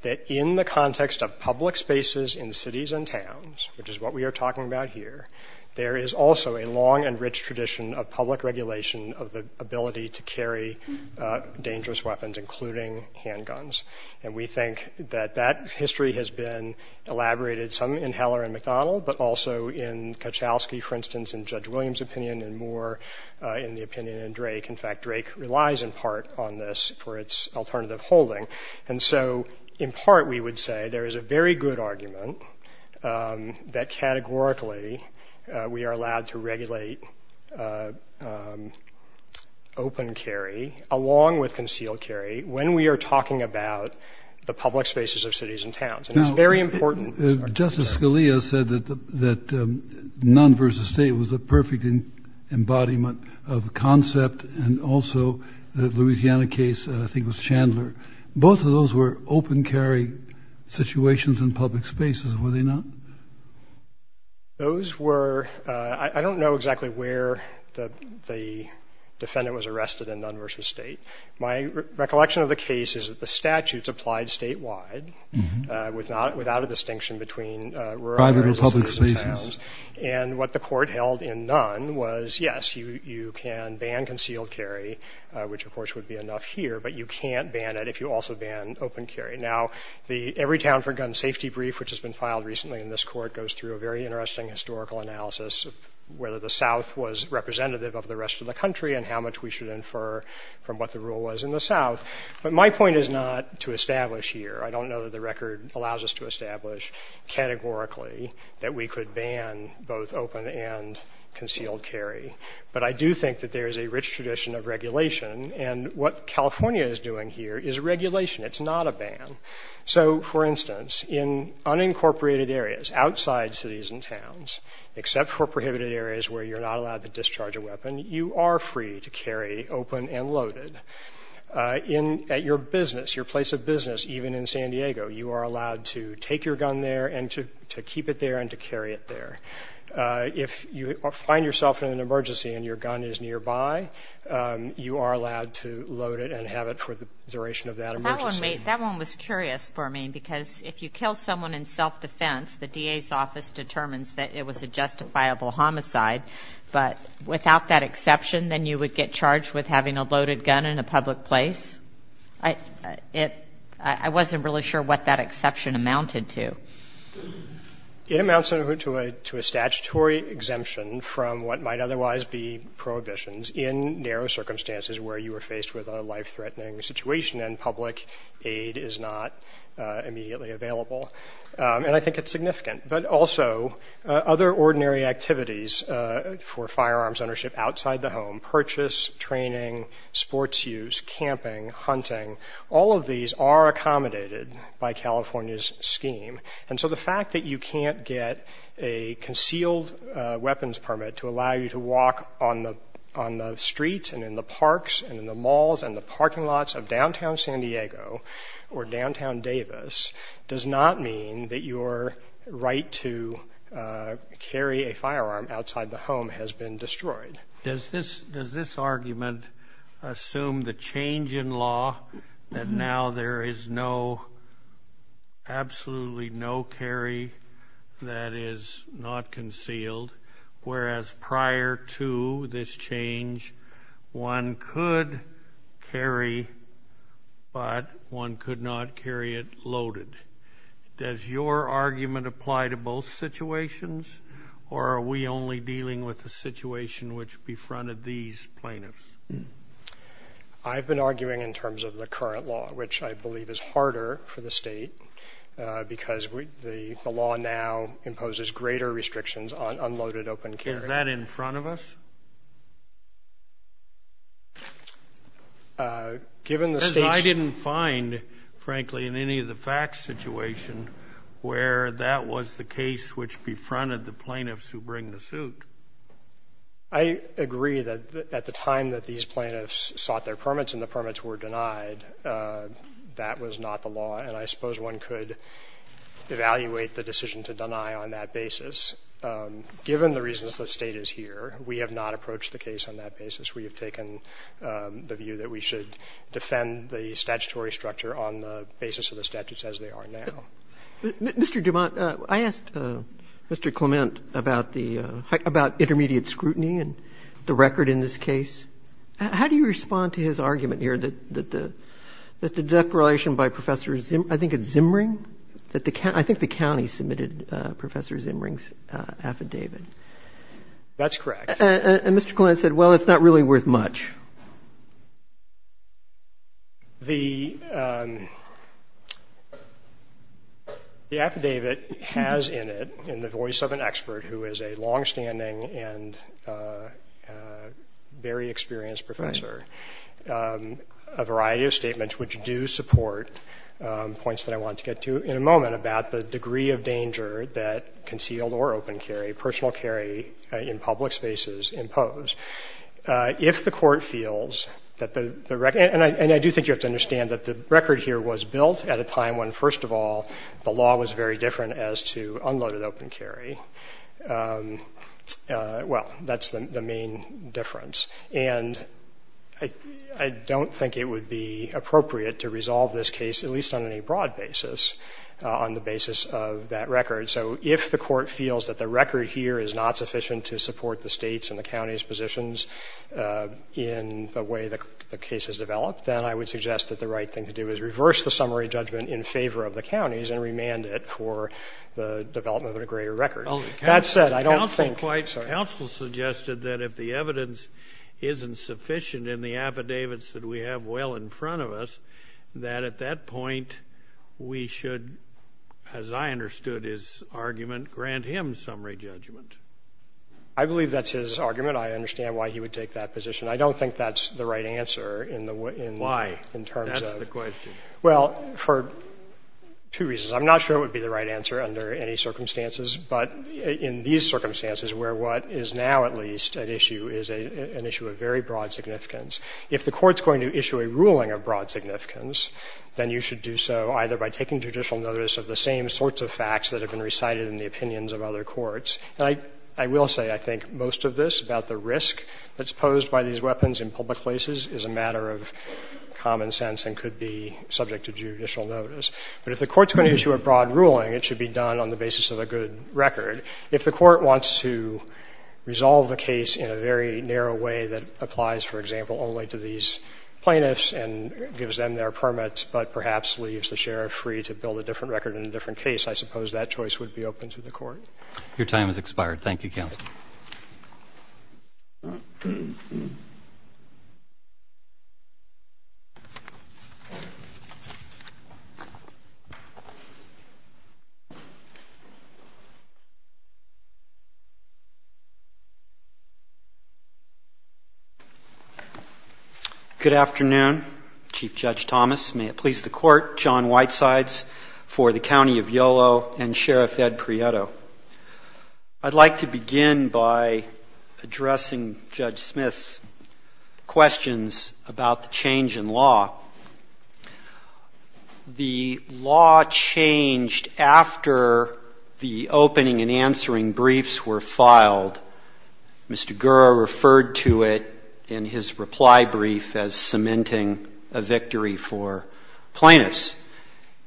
that in the context of public spaces in cities and towns, which is what we are talking about here, there is also a long and rich tradition of public regulation of the ability to carry dangerous weapons, including handguns. And we think that that history has been elaborated some in Heller and McDonald, but also in Kachowski, for instance, in Judge Williams' opinion, and more in the opinion of Drake. In fact, Drake relies in part on this for its alternative holding. And so in part, we would say there is a very good argument that categorically we are allowed to regulate open carry, along with concealed carry, when we are talking about the public spaces of cities and towns. Now, Justice Scalia said that none versus state was a perfect embodiment of a concept, and also the Louisiana case, I think it was Chandler. Both of those were open carry situations in public spaces, were they not? Those were, I don't know exactly where the defendant was arrested in none versus state. My recollection of the case is that the statutes applied statewide, without a distinction between rural areas and cities and towns. And what the court held in none was, yes, you can ban concealed carry, which of course would be enough here, but you can't ban it if you also ban open carry. Now, the Everytown for Gun Safety brief, which has been filed recently in this court, goes through a very interesting historical analysis of whether the South was representative of the rest of the country and how much we should infer from what the rule was in the South. But my point is not to establish here. I don't know that the record allows us to establish categorically that we could ban both open and concealed carry. But I do think that there is a rich tradition of regulation, and what California is doing here is regulation. It's not a ban. So, for instance, in unincorporated areas, outside cities and towns, except for prohibited areas where you're not allowed to discharge a weapon, you are free to carry open and loaded. At your business, your place of business, even in San Diego, you are allowed to take your gun there and to keep it there and to carry it there. If you find yourself in an emergency and your gun is nearby, you are allowed to load it and have it for the duration of that emergency. That one was curious for me, because if you kill someone in self-defense, the DA's office determines that it was a justifiable homicide. But without that exception, then you would get charged with having a loaded gun in a public place? I wasn't really sure what that exception amounted to. It amounts to a statutory exemption from what might otherwise be prohibitions in narrow circumstances where you are faced with a life-threatening situation and public aid is not immediately available. And I think it's significant. But also, other ordinary activities for firearms ownership outside the home, purchase, training, sports use, camping, hunting, all of these are accommodated by California's scheme. And so the fact that you can't get a concealed weapons permit to allow you to walk on the streets and in the parks and in the malls and the parking lots of downtown San Diego or downtown Davis does not mean that your right to carry a firearm outside the home has been destroyed. Does this argument assume the change in law that now there is absolutely no carry that is not concealed, whereas prior to this change one could carry but one could not carry it loaded? Does your argument apply to both situations or are we only dealing with the situation which befronted these plaintiffs? I've been arguing in terms of the current law, which I believe is harder for the state because the law now imposes greater restrictions on unloaded open carry. Is that in front of us? I didn't find, frankly, in any of the facts situation where that was the case which befronted the plaintiffs who bring the suit. I agree that at the time that these plaintiffs sought their permits and the permits were denied, that was not the law, and I suppose one could evaluate the decision to deny on that basis. Given the reasons the state is here, we have not approached the case on that basis. We have taken the view that we should defend the statutory structure on the basis of the statutes as they are now. Mr. Dumont, I asked Mr. Clement about intermediate scrutiny and the record in this case. How do you respond to his argument here that the declaration by Professor Zimring, I think the county submitted Professor Zimring's affidavit? That's correct. And Mr. Clement said, well, it's not really worth much. The affidavit has in it, in the voice of an expert who is a longstanding and very experienced professor, a variety of statements which do support points that I wanted to get to in a moment about the degree of danger that concealed or open carry, personal carry in public spaces impose. If the court feels that the record, and I do think you have to understand that the record here was built at a time when, first of all, the law was very different as to unloaded open carry. Well, that's the main difference. And I don't think it would be appropriate to resolve this case, at least on any broad basis, on the basis of that record. So if the court feels that the record here is not sufficient to support the state's and the county's positions in the way that the case has developed, then I would suggest that the right thing to do is reverse the summary judgment in favor of the county's and remand it for the development of a greater record. That said, I don't think... Counsel suggested that if the evidence isn't sufficient in the affidavits that we have well in front of us, that at that point we should, as I understood his argument, grant him summary judgment. I believe that's his argument. I understand why he would take that position. I don't think that's the right answer in terms of... Why? That's the question. Well, for two reasons. I'm not sure it would be the right answer under any circumstances, but in these circumstances where what is now at least at issue is an issue of very broad significance, if the court's going to issue a ruling of broad significance, then you should do so either by taking judicial notice of the same sorts of facts that have been recited in the opinions of other courts. I will say I think most of this, about the risk that's posed by these weapons in public places, is a matter of common sense and could be subject to judicial notice. But if the court's going to issue a broad ruling, it should be done on the basis of a good record. If the court wants to resolve the case in a very narrow way that applies, for example, only to these plaintiffs and gives them their permits, but perhaps leaves the sheriff free to build a different record in a different case, I suppose that choice would be open to the court. Your time has expired. Thank you, counsel. Good afternoon. Chief Judge Thomas, may it please the court, John Whitesides for the County of Yolo and Sheriff Ed Prieto. I'd like to begin by addressing Judge Smith's questions about the change in law. The law changed after the opening and answering briefs were filed. Mr. Gura referred to it in his reply brief as cementing a victory for plaintiffs.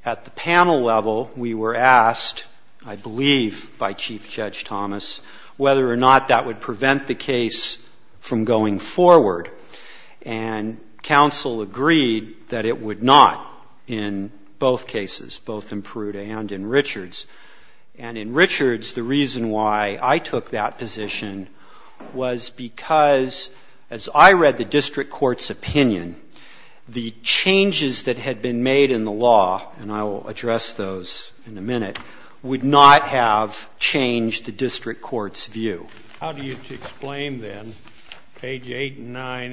At the panel level, we were asked, I believe by Chief Judge Thomas, whether or not that would prevent the case from going forward. And counsel agreed that it would not in both cases, both in Peruta and in Richards. And in Richards, the reason why I took that position was because as I read the district court's opinion, the changes that had been made in the law, and I will address those in a minute, would not have changed the district court's view. But I did find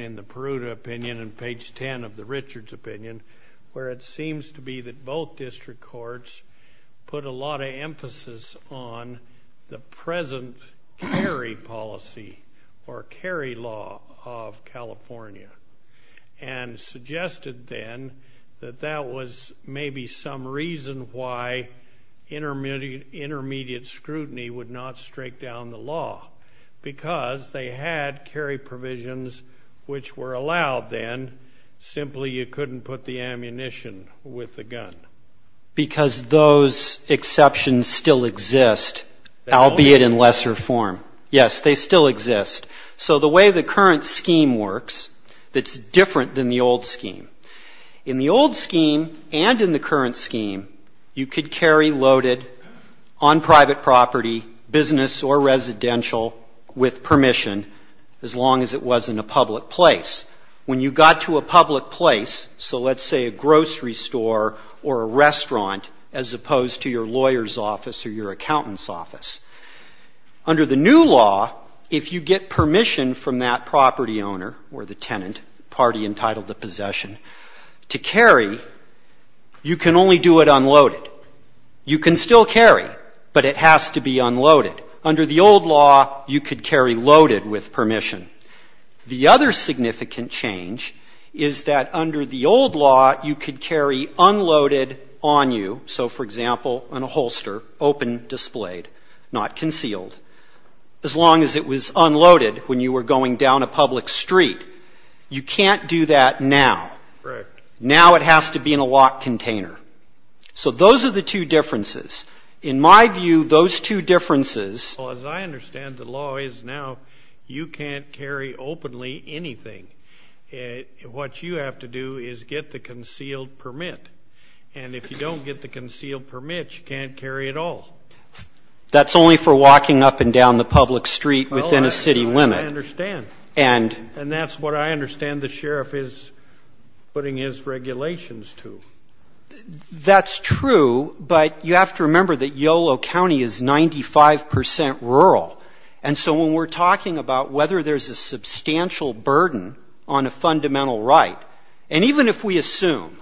in the Peruta opinion and page 10 of the Richards opinion, where it seems to be that both district courts put a lot of emphasis on the present carry policy or carry law of California and suggested then that that was maybe some reason why intermediate scrutiny would not strike down the law, because they had carry provisions which were allowed then, simply you couldn't put the ammunition with the gun. Because those exceptions still exist, albeit in lesser form. Yes, they still exist. So the way the current scheme works, it's different than the old scheme. In the old scheme and in the current scheme, you could carry loaded on private property, business or residential with permission as long as it was in a public place. When you got to a public place, so let's say a grocery store or a restaurant, as opposed to your lawyer's office or your accountant's office, under the new law, if you get permission from that property owner or the tenant, party entitled to possession, to carry, you can only do it unloaded. You can still carry, but it has to be unloaded. Under the old law, you could carry loaded with permission. The other significant change is that under the old law, you could carry unloaded on you. So for example, on a holster, open, displayed, not concealed, as long as it was unloaded when you were going down a public street. You can't do that now. Now it has to be in a locked container. So those are the two differences. In my view, those two differences... As I understand the law is now, you can't carry openly anything. What you have to do is get the concealed permit. And if you don't get the concealed permit, you can't carry at all. That's only for walking up and down the public street within a city limit. I understand. And that's what I understand the sheriff is putting his regulations to. That's true, but you have to remember that Yolo County is 95% rural. And so when we're talking about whether there's a substantial burden on a fundamental right, and even if we assume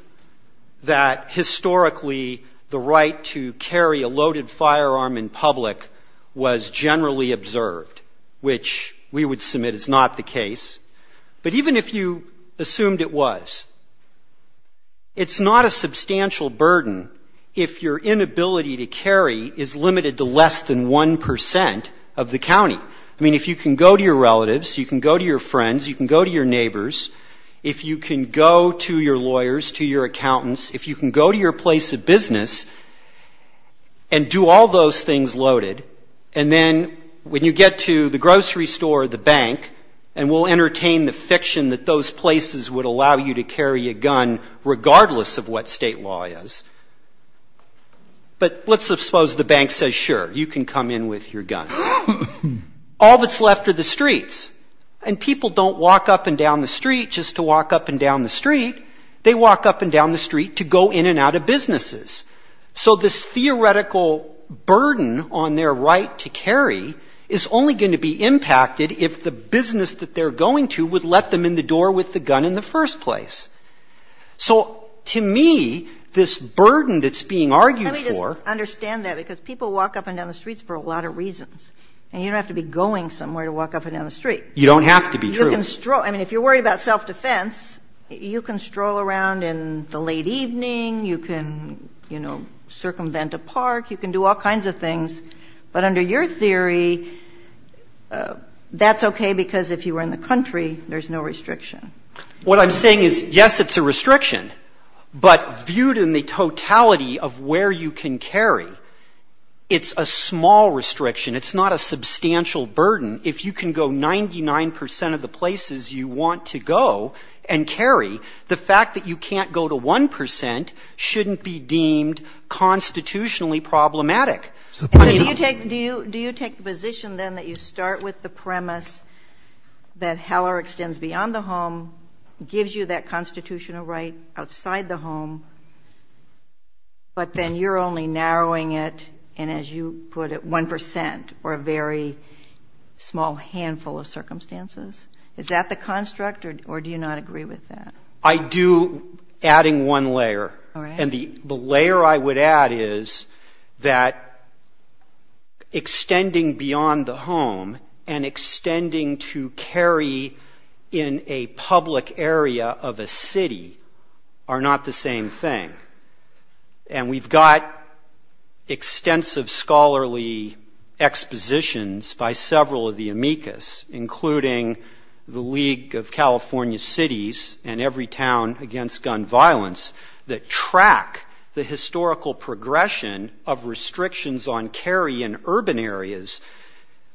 that historically the right to carry a loaded firearm in public was generally observed, which we would submit is not the case, but even if you assumed it was, it's not a substantial burden if your inability to carry is limited to less than 1% of the county. I mean, if you can go to your relatives, you can go to your friends, you can go to your neighbors, if you can go to your lawyers, to your accountants, if you can go to your place of business and do all those things loaded, and then when you get to the grocery store or the bank and we'll entertain the fiction that those places would allow you to carry a gun regardless of what state law is, but let's suppose the bank says, sure, you can come in with your gun. All that's left are the streets. And people don't walk up and down the street just to walk up and down the street. They walk up and down the street to go in and out of businesses. So this theoretical burden on their right to carry is only going to be impacted if the business that they're going to would let them in the door with the gun in the first place. So, to me, this burden that's being argued for... I don't understand that because people walk up and down the streets for a lot of reasons. And you don't have to be going somewhere to walk up and down the street. You don't have to be, true. I mean, if you're worried about self-defense, you can stroll around in the late evening, you can, you know, circumvent a park, you can do all kinds of things, but under your theory, that's okay because if you were in the country, there's no restriction. What I'm saying is, yes, it's a restriction, but viewed in the totality of where you can carry, it's a small restriction. It's not a substantial burden. If you can go 99% of the places you want to go and carry, the fact that you can't go to 1% shouldn't be deemed constitutionally problematic. Do you take the position, then, that you start with the premise that Heller extends beyond the home, gives you that constitutional right outside the home, but then you're only narrowing it, and as you put it, 1%, or a very small handful of circumstances? Is that the construct, or do you not agree with that? I do, adding one layer. And the layer I would add is that extending beyond the home and extending to carry in a public area of a city are not the same thing. And we've got extensive scholarly expositions by several of the amicus, including the League of California Cities and Every Town Against Gun Violence that track the historical progression of restrictions on carry in urban areas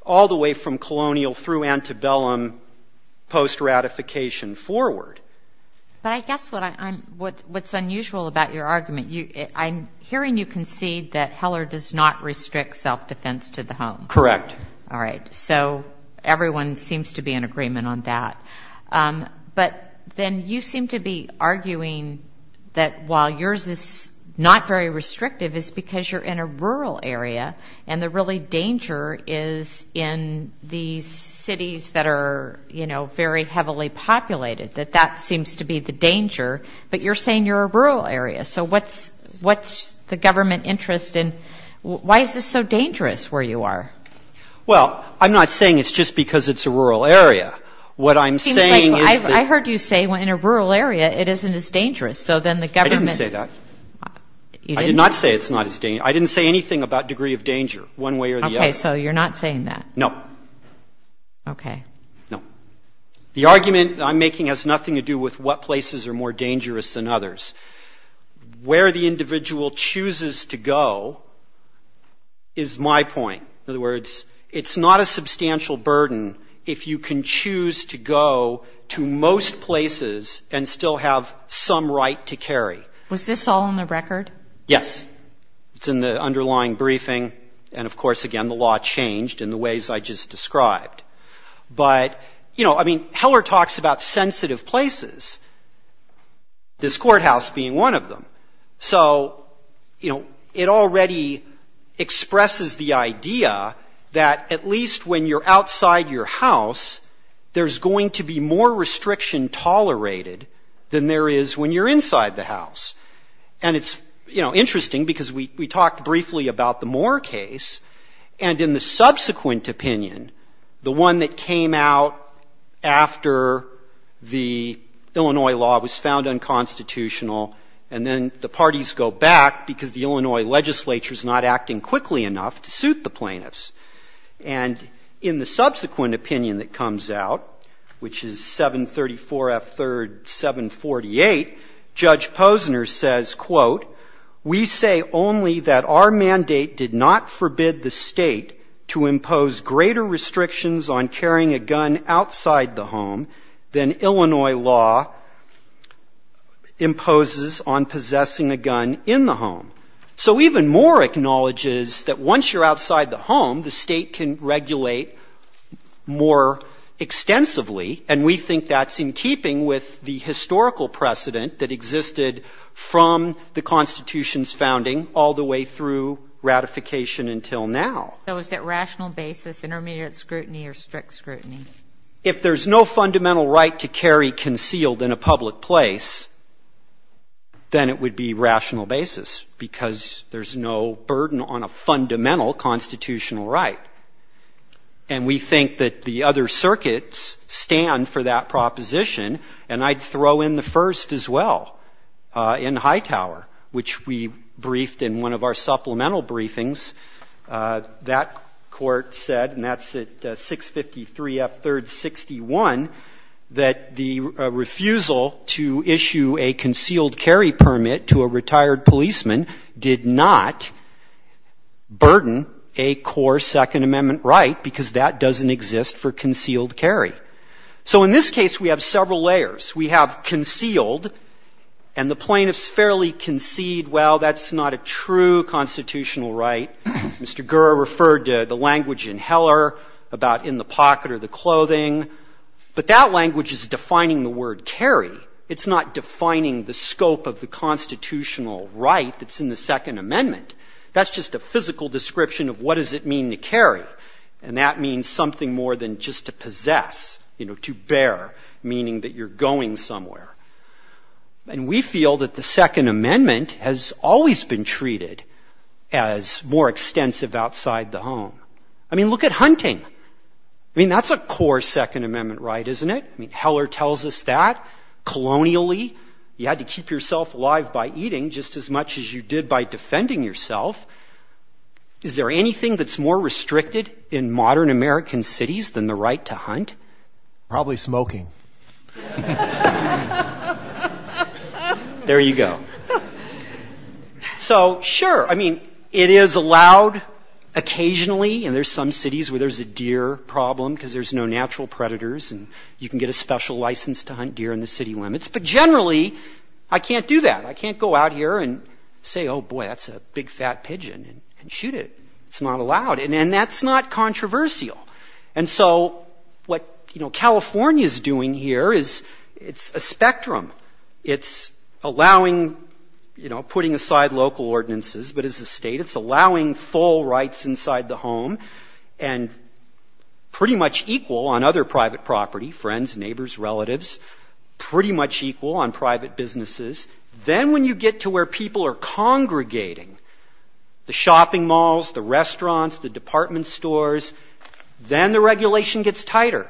all the way from colonial through antebellum post-ratification forward. But I guess what's unusual about your argument, I'm hearing you concede that Heller does not restrict self-defense to the home. Correct. All right. So everyone seems to be in agreement on that. But then you seem to be arguing that while yours is not very restrictive, it's because you're in a rural area, and the really danger is in the cities that are very heavily populated, that that seems to be the danger, but you're saying you're a rural area. So what's the government interest, and why is this so dangerous where you are? Well, I'm not saying it's just because it's a rural area. I heard you say in a rural area it isn't as dangerous. I didn't say that. I did not say it's not as dangerous. I didn't say anything about degree of danger one way or the other. Okay. So you're not saying that. No. Okay. No. The argument I'm making has nothing to do with what places are more dangerous than others. Where the individual chooses to go is my point. In other words, it's not a substantial burden if you can choose to go to most places and still have some right to carry. Was this all on the record? Yes. It's in the underlying briefing, and of course, again, the law changed in the ways I just described. But, you know, I mean, Heller talks about sensitive places, this courthouse being one of them. So, you know, it already expresses the idea that at least when you're outside your house, there's going to be more restriction tolerated than there is when you're inside the house. And it's, you know, interesting because we talked briefly about the Moore case, and in the subsequent opinion, the one that came out after the Illinois law was found unconstitutional and then the parties go back because the Illinois legislature is not acting quickly enough to suit the plaintiffs. And in the subsequent opinion that comes out, which is 734F3rd748, Judge Posner says, quote, we say only that our mandate did not forbid the state to impose greater restrictions on carrying a gun outside the home than Illinois law imposes on possessing a gun in the home. So even Moore acknowledges that once you're outside the home, the state can regulate more extensively, and we think that's in keeping with the historical precedent that existed from the Constitution's founding all the way through ratification until now. So is it rational basis, intermediate scrutiny, or strict scrutiny? If there's no fundamental right to carry concealed in a public place, then it would be rational basis because there's no burden on a fundamental constitutional right. And we think that the other circuits stand for that proposition, and I'd throw in the first as well in Hightower, which we briefed in one of our supplemental briefings. That court said, and that's at 653F3rd61, that the refusal to issue a concealed carry permit to a retired policeman did not burden a core Second Amendment right because that doesn't exist for concealed carry. So in this case, we have several layers. We have concealed, and the plaintiffs fairly concede, well, that's not a true constitutional right. Mr. Gurr referred to the language in Heller about in the pocket or the clothing, but that language is defining the word carry. It's not defining the scope of the constitutional right that's in the Second Amendment. That's just a physical description of what does it mean to carry, and that means something more than just to possess, you know, to bear, meaning that you're going somewhere. And we feel that the Second Amendment has always been treated as more extensive outside the home. I mean, look at hunting. I mean, that's a core Second Amendment right, isn't it? I mean, Heller tells us that. Colonially, you had to keep yourself alive by eating just as much as you did by defending yourself. Is there anything that's more restricted in modern American cities than the right to hunt? Probably smoking. LAUGHTER There you go. So, sure, I mean, it is allowed occasionally, and there's some cities where there's a deer problem because there's no natural predators and you can get a special license to hunt deer in the city limits, but generally, I can't do that. I can't go out here and say, oh, boy, that's a big, fat pigeon and shoot it. It's not allowed, and that's not controversial. And so what, you know, California's doing here is it's a spectrum. It's allowing, you know, putting aside local ordinances, but as a state, it's allowing full rights inside the home and pretty much equal on other private property, friends, neighbours, relatives, pretty much equal on private businesses. Then when you get to where people are congregating, the shopping malls, the restaurants, the department stores, then the regulation gets tighter.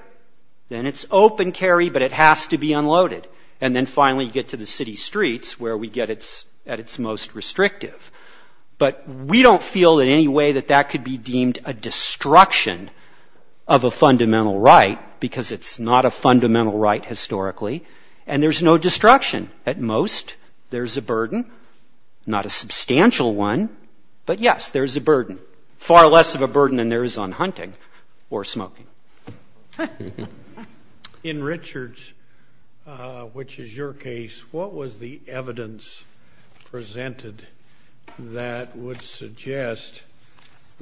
Then it's open carry, but it has to be unloaded. And then finally you get to the city streets where we get at its most restrictive. But we don't feel in any way that that could be deemed a destruction of a fundamental right because it's not a fundamental right historically, and there's no destruction. Again, at most there's a burden, not a substantial one, but, yes, there's a burden, far less of a burden than there is on hunting or smoking. In Richards, which is your case, what was the evidence presented that would suggest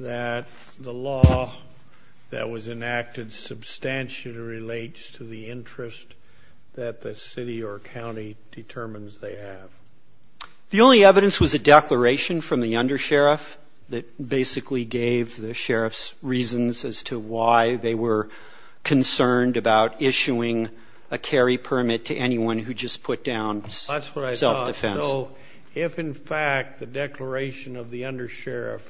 that the law that was enacted substantially relates to the interest that the city or county determines they have? The only evidence was a declaration from the undersheriff that basically gave the sheriffs reasons as to why they were concerned about issuing a carry permit to anyone who just put down self-defense. That's what I thought. So if in fact the declaration of the undersheriff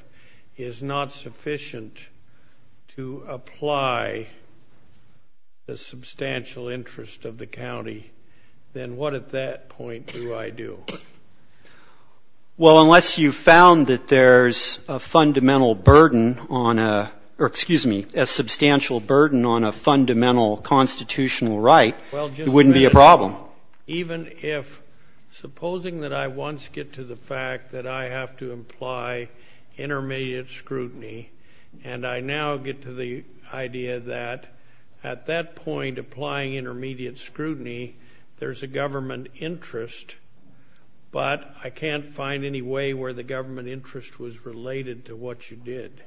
is not sufficient to apply the substantial interest of the county, then what at that point do I do? Well, unless you found that there's a fundamental burden on a, or excuse me, a substantial burden on a fundamental constitutional right, it wouldn't be a problem. Even if, supposing that I once get to the fact that I have to apply intermediate scrutiny, and I now get to the idea that at that point, applying intermediate scrutiny, there's a government interest, but I can't find any way where the government interest was related to what you did.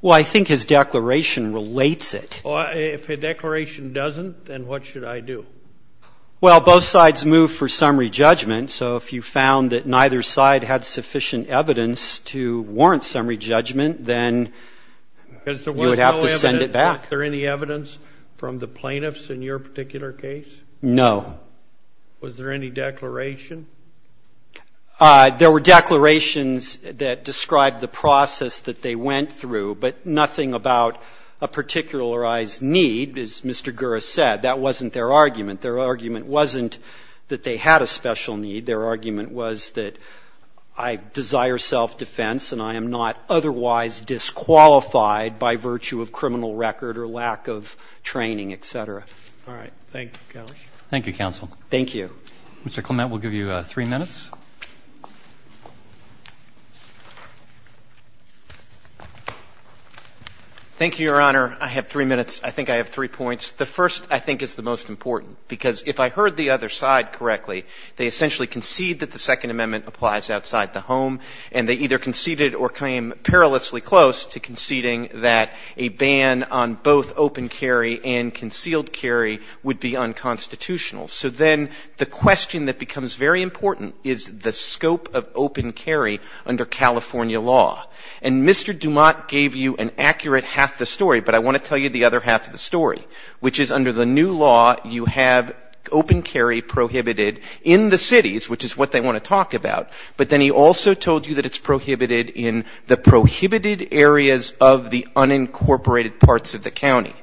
Well, I think his declaration relates it. If a declaration doesn't, then what should I do? Well, both sides move for summary judgment, so if you found that neither side had sufficient evidence to warrant summary judgment, then you would have to send it back. Was there any evidence from the plaintiffs in your particular case? No. Was there any declaration? There were declarations that described the process that they went through, but nothing about a particularized need, as Mr. Gura said. That wasn't their argument. Their argument wasn't that they had a special need. Their argument was that I desire self-defense and I am not otherwise disqualified by virtue of criminal record or lack of training, et cetera. All right. Thank you, Kelly. Thank you, counsel. Thank you. Mr. Clement, we'll give you three minutes. Thank you, Your Honor. I have three minutes. I think I have three points. The first, I think, is the most important, because if I heard the other side correctly, they essentially concede that the Second Amendment applies outside the home, and they either conceded or came perilously close to conceding that a ban on both open carry and concealed carry would be unconstitutional. So then the question that becomes very important is the scope of open carry under California law. And Mr. Dumont gave you an accurate half the story, but I want to tell you the other half of the story, which is under the new law you have open carry prohibited in the cities, which is what they want to talk about, but then he also told you that it's prohibited in the prohibited areas of the unincorporated parts of the county.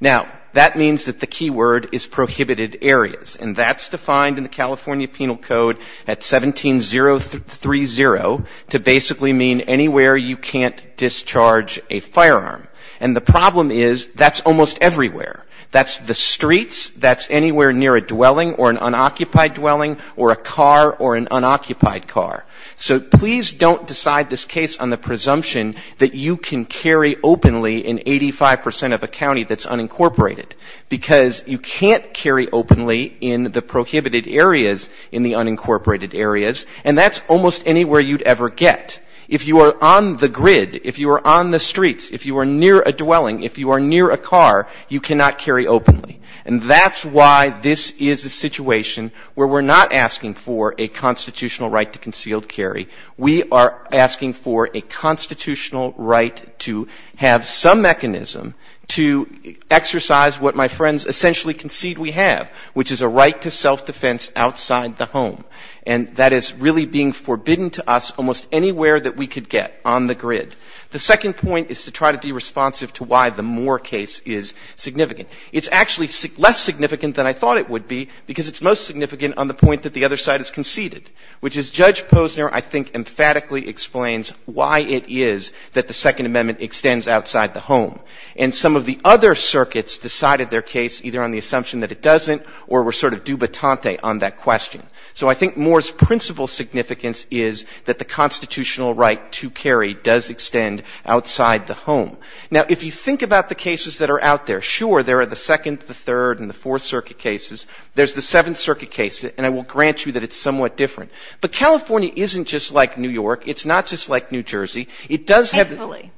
Now, that means that the key word is prohibited areas, and that's defined in the California Penal Code at 17030 to basically mean anywhere you can't discharge a firearm. And the problem is that's almost everywhere. That's the streets, that's anywhere near a dwelling or an unoccupied dwelling or a car or an unoccupied car. So please don't decide this case on the presumption that you can carry openly in 85% of a county that's unincorporated, because you can't carry openly in the prohibited areas in the unincorporated areas, and that's almost anywhere you'd ever get. If you are on the grid, if you are on the streets, if you are near a dwelling, if you are near a car, you cannot carry openly. And that's why this is a situation where we're not asking for a constitutional right to concealed carry. We are asking for a constitutional right to have some mechanism to exercise what my friends essentially concede we have, which is a right to self-defense outside the home, and that is really being forbidden to us almost anywhere that we could get on the grid. The second point is to try to be responsive to why the Moore case is significant. It's actually less significant than I thought it would be, because it's most significant on the point that the other side has conceded, which as Judge Posner, I think, emphatically explains why it is that the Second Amendment extends outside the home. And some of the other circuits decided their case either on the assumption that it doesn't or were sort of dubatante on that question. So I think Moore's principal significance is that the constitutional right to carry does extend outside the home. Now, if you think about the cases that are out there, sure, there are the Second, the Third, and the Fourth Circuit cases. There's the Seventh Circuit case, and I will grant you that it's somewhat different. But California isn't just like New York. It's not just like New Jersey. It does have... Thankfully.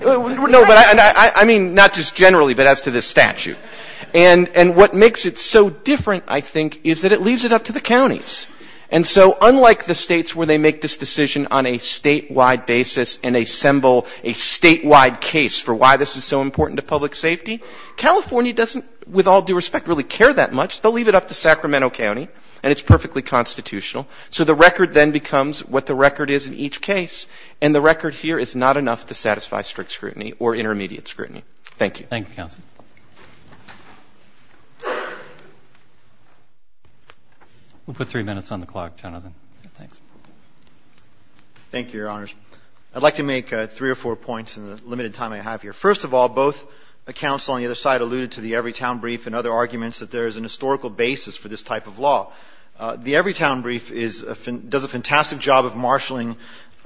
No, but I mean not just generally, but as to the statute. And what makes it so different, I think, is that it leaves it up to the counties. And so unlike the states where they make this decision on a statewide basis and assemble a statewide case for why this is so important to public safety, California doesn't, with all due respect, really care that much. They'll leave it up to Sacramento County, and it's perfectly constitutional. So the record then becomes what the record is in each case, and the record here is not enough to satisfy strict scrutiny or intermediate scrutiny. Thank you. Thank you, counsel. We'll put three minutes on the clock, gentlemen. Thanks. Thank you, Your Honors. I'd like to make three or four points in the limited time I have here. First of all, both the counsel on the other side alluded to the Everytown Brief and other arguments that there is a historical basis for this type of law. The Everytown Brief does a fantastic job of marshalling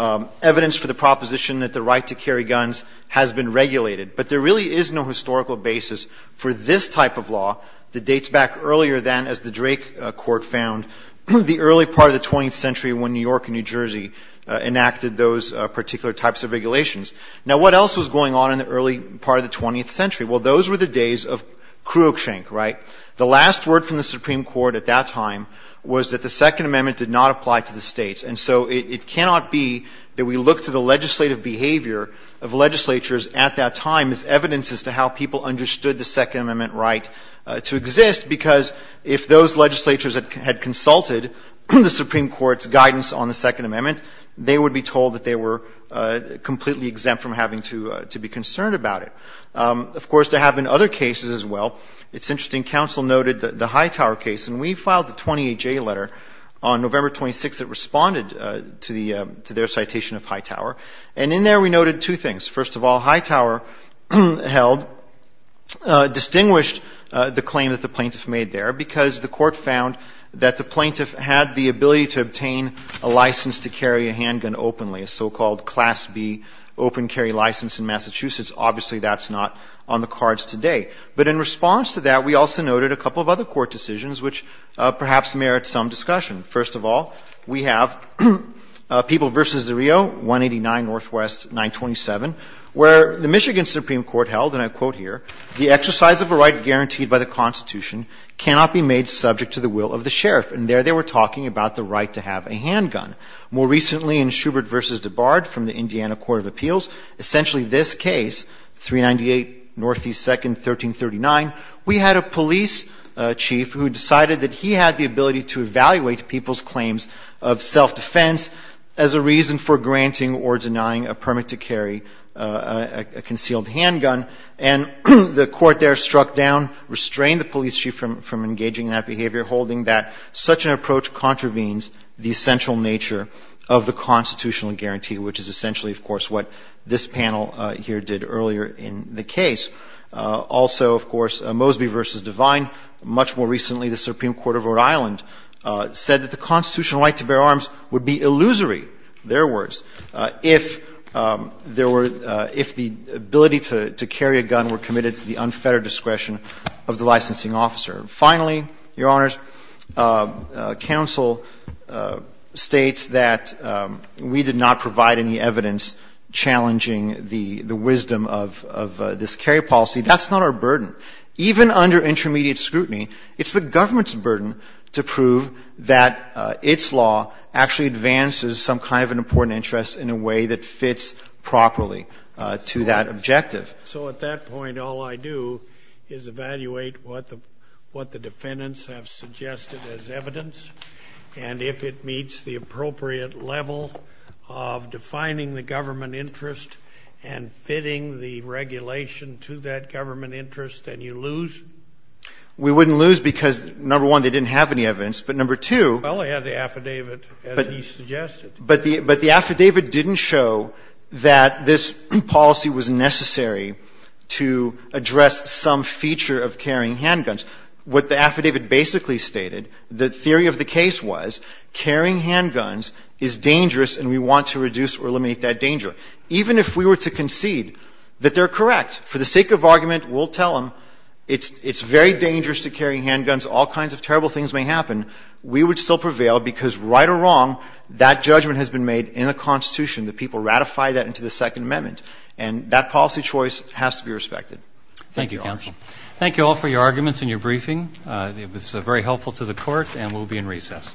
evidence for the proposition that the right to carry guns has been regulated. But there really is no historical basis for this type of law. It dates back earlier than, as the Drake Court found, the early part of the 20th century when New York and New Jersey enacted those particular types of regulations. Now, what else was going on in the early part of the 20th century? Well, those were the days of kruokshank, right? The last word from the Supreme Court at that time was that the Second Amendment did not apply to the states. And so it cannot be that we look to the legislative behavior of legislatures at that time as evidence as to how people understood the Second Amendment right to exist because if those legislatures had consulted the Supreme Court's guidance on the Second Amendment, they would be told that they were completely exempt from having to be concerned about it. Of course, they have in other cases as well. It's interesting, counsel noted the Hightower case. And we filed the 20HA letter on November 26th that responded to their citation of Hightower. And in there we noted two things. First of all, Hightower distinguished the claim that the plaintiff made there because the court found that the plaintiff had the ability to obtain a license to carry a handgun openly, a so-called Class B open carry license in Massachusetts. Obviously, that's not on the cards today. But in response to that, we also noted a couple of other court decisions which perhaps merit some discussion. First of all, we have People v. DeRio, 189 Northwest 927, where the Michigan Supreme Court held, and I quote here, the exercise of a right guaranteed by the Constitution cannot be made subject to the will of the sheriff. And there they were talking about the right to have a handgun. More recently in Schubert v. DeBard from the Indiana Court of Appeals, essentially this case, 398 Northeast 2nd, 1339, we had a police chief who decided that he had the ability to evaluate people's claims of self-defense as a reason for granting or denying a permit to carry a concealed handgun. And the court there struck down, restrained the police chief from engaging in that behavior, holding that such an approach contravenes the essential nature of the constitutional guarantee, which is essentially, of course, what this panel here did earlier in the case. Also, of course, Mosby v. Devine, much more recently the Supreme Court of Rhode Island, said that the constitutional right to bear arms would be illusory, their words, if the ability to carry a gun were committed to the unfettered discretion of the licensing officer. Finally, Your Honors, counsel states that we did not provide any evidence challenging the wisdom of this carry policy. That's not our burden. Even under intermediate scrutiny, it's the government's burden to prove that its law actually advances some kind of an important interest in a way that fits properly to that objective. So at that point, all I do is evaluate what the defendants have suggested as evidence, and if it meets the appropriate level of defining the government interest and fitting the regulation to that government interest, then you lose? We wouldn't lose because, number one, they didn't have any evidence, but number two- Well, they had the affidavit, as you suggested. But the affidavit didn't show that this policy was necessary to address some feature of carrying handguns. What the affidavit basically stated, the theory of the case was carrying handguns is dangerous and we want to reduce or eliminate that danger. Even if we were to concede that they're correct, for the sake of argument, we'll tell them it's very dangerous to carry handguns, all kinds of terrible things may happen, we would still prevail because, right or wrong, that judgment has been made in the Constitution that people ratify that into the Second Amendment, and that policy choice has to be respected. Thank you, counsel. Thank you all for your arguments and your briefing. It was very helpful to the court, and we'll be in recess.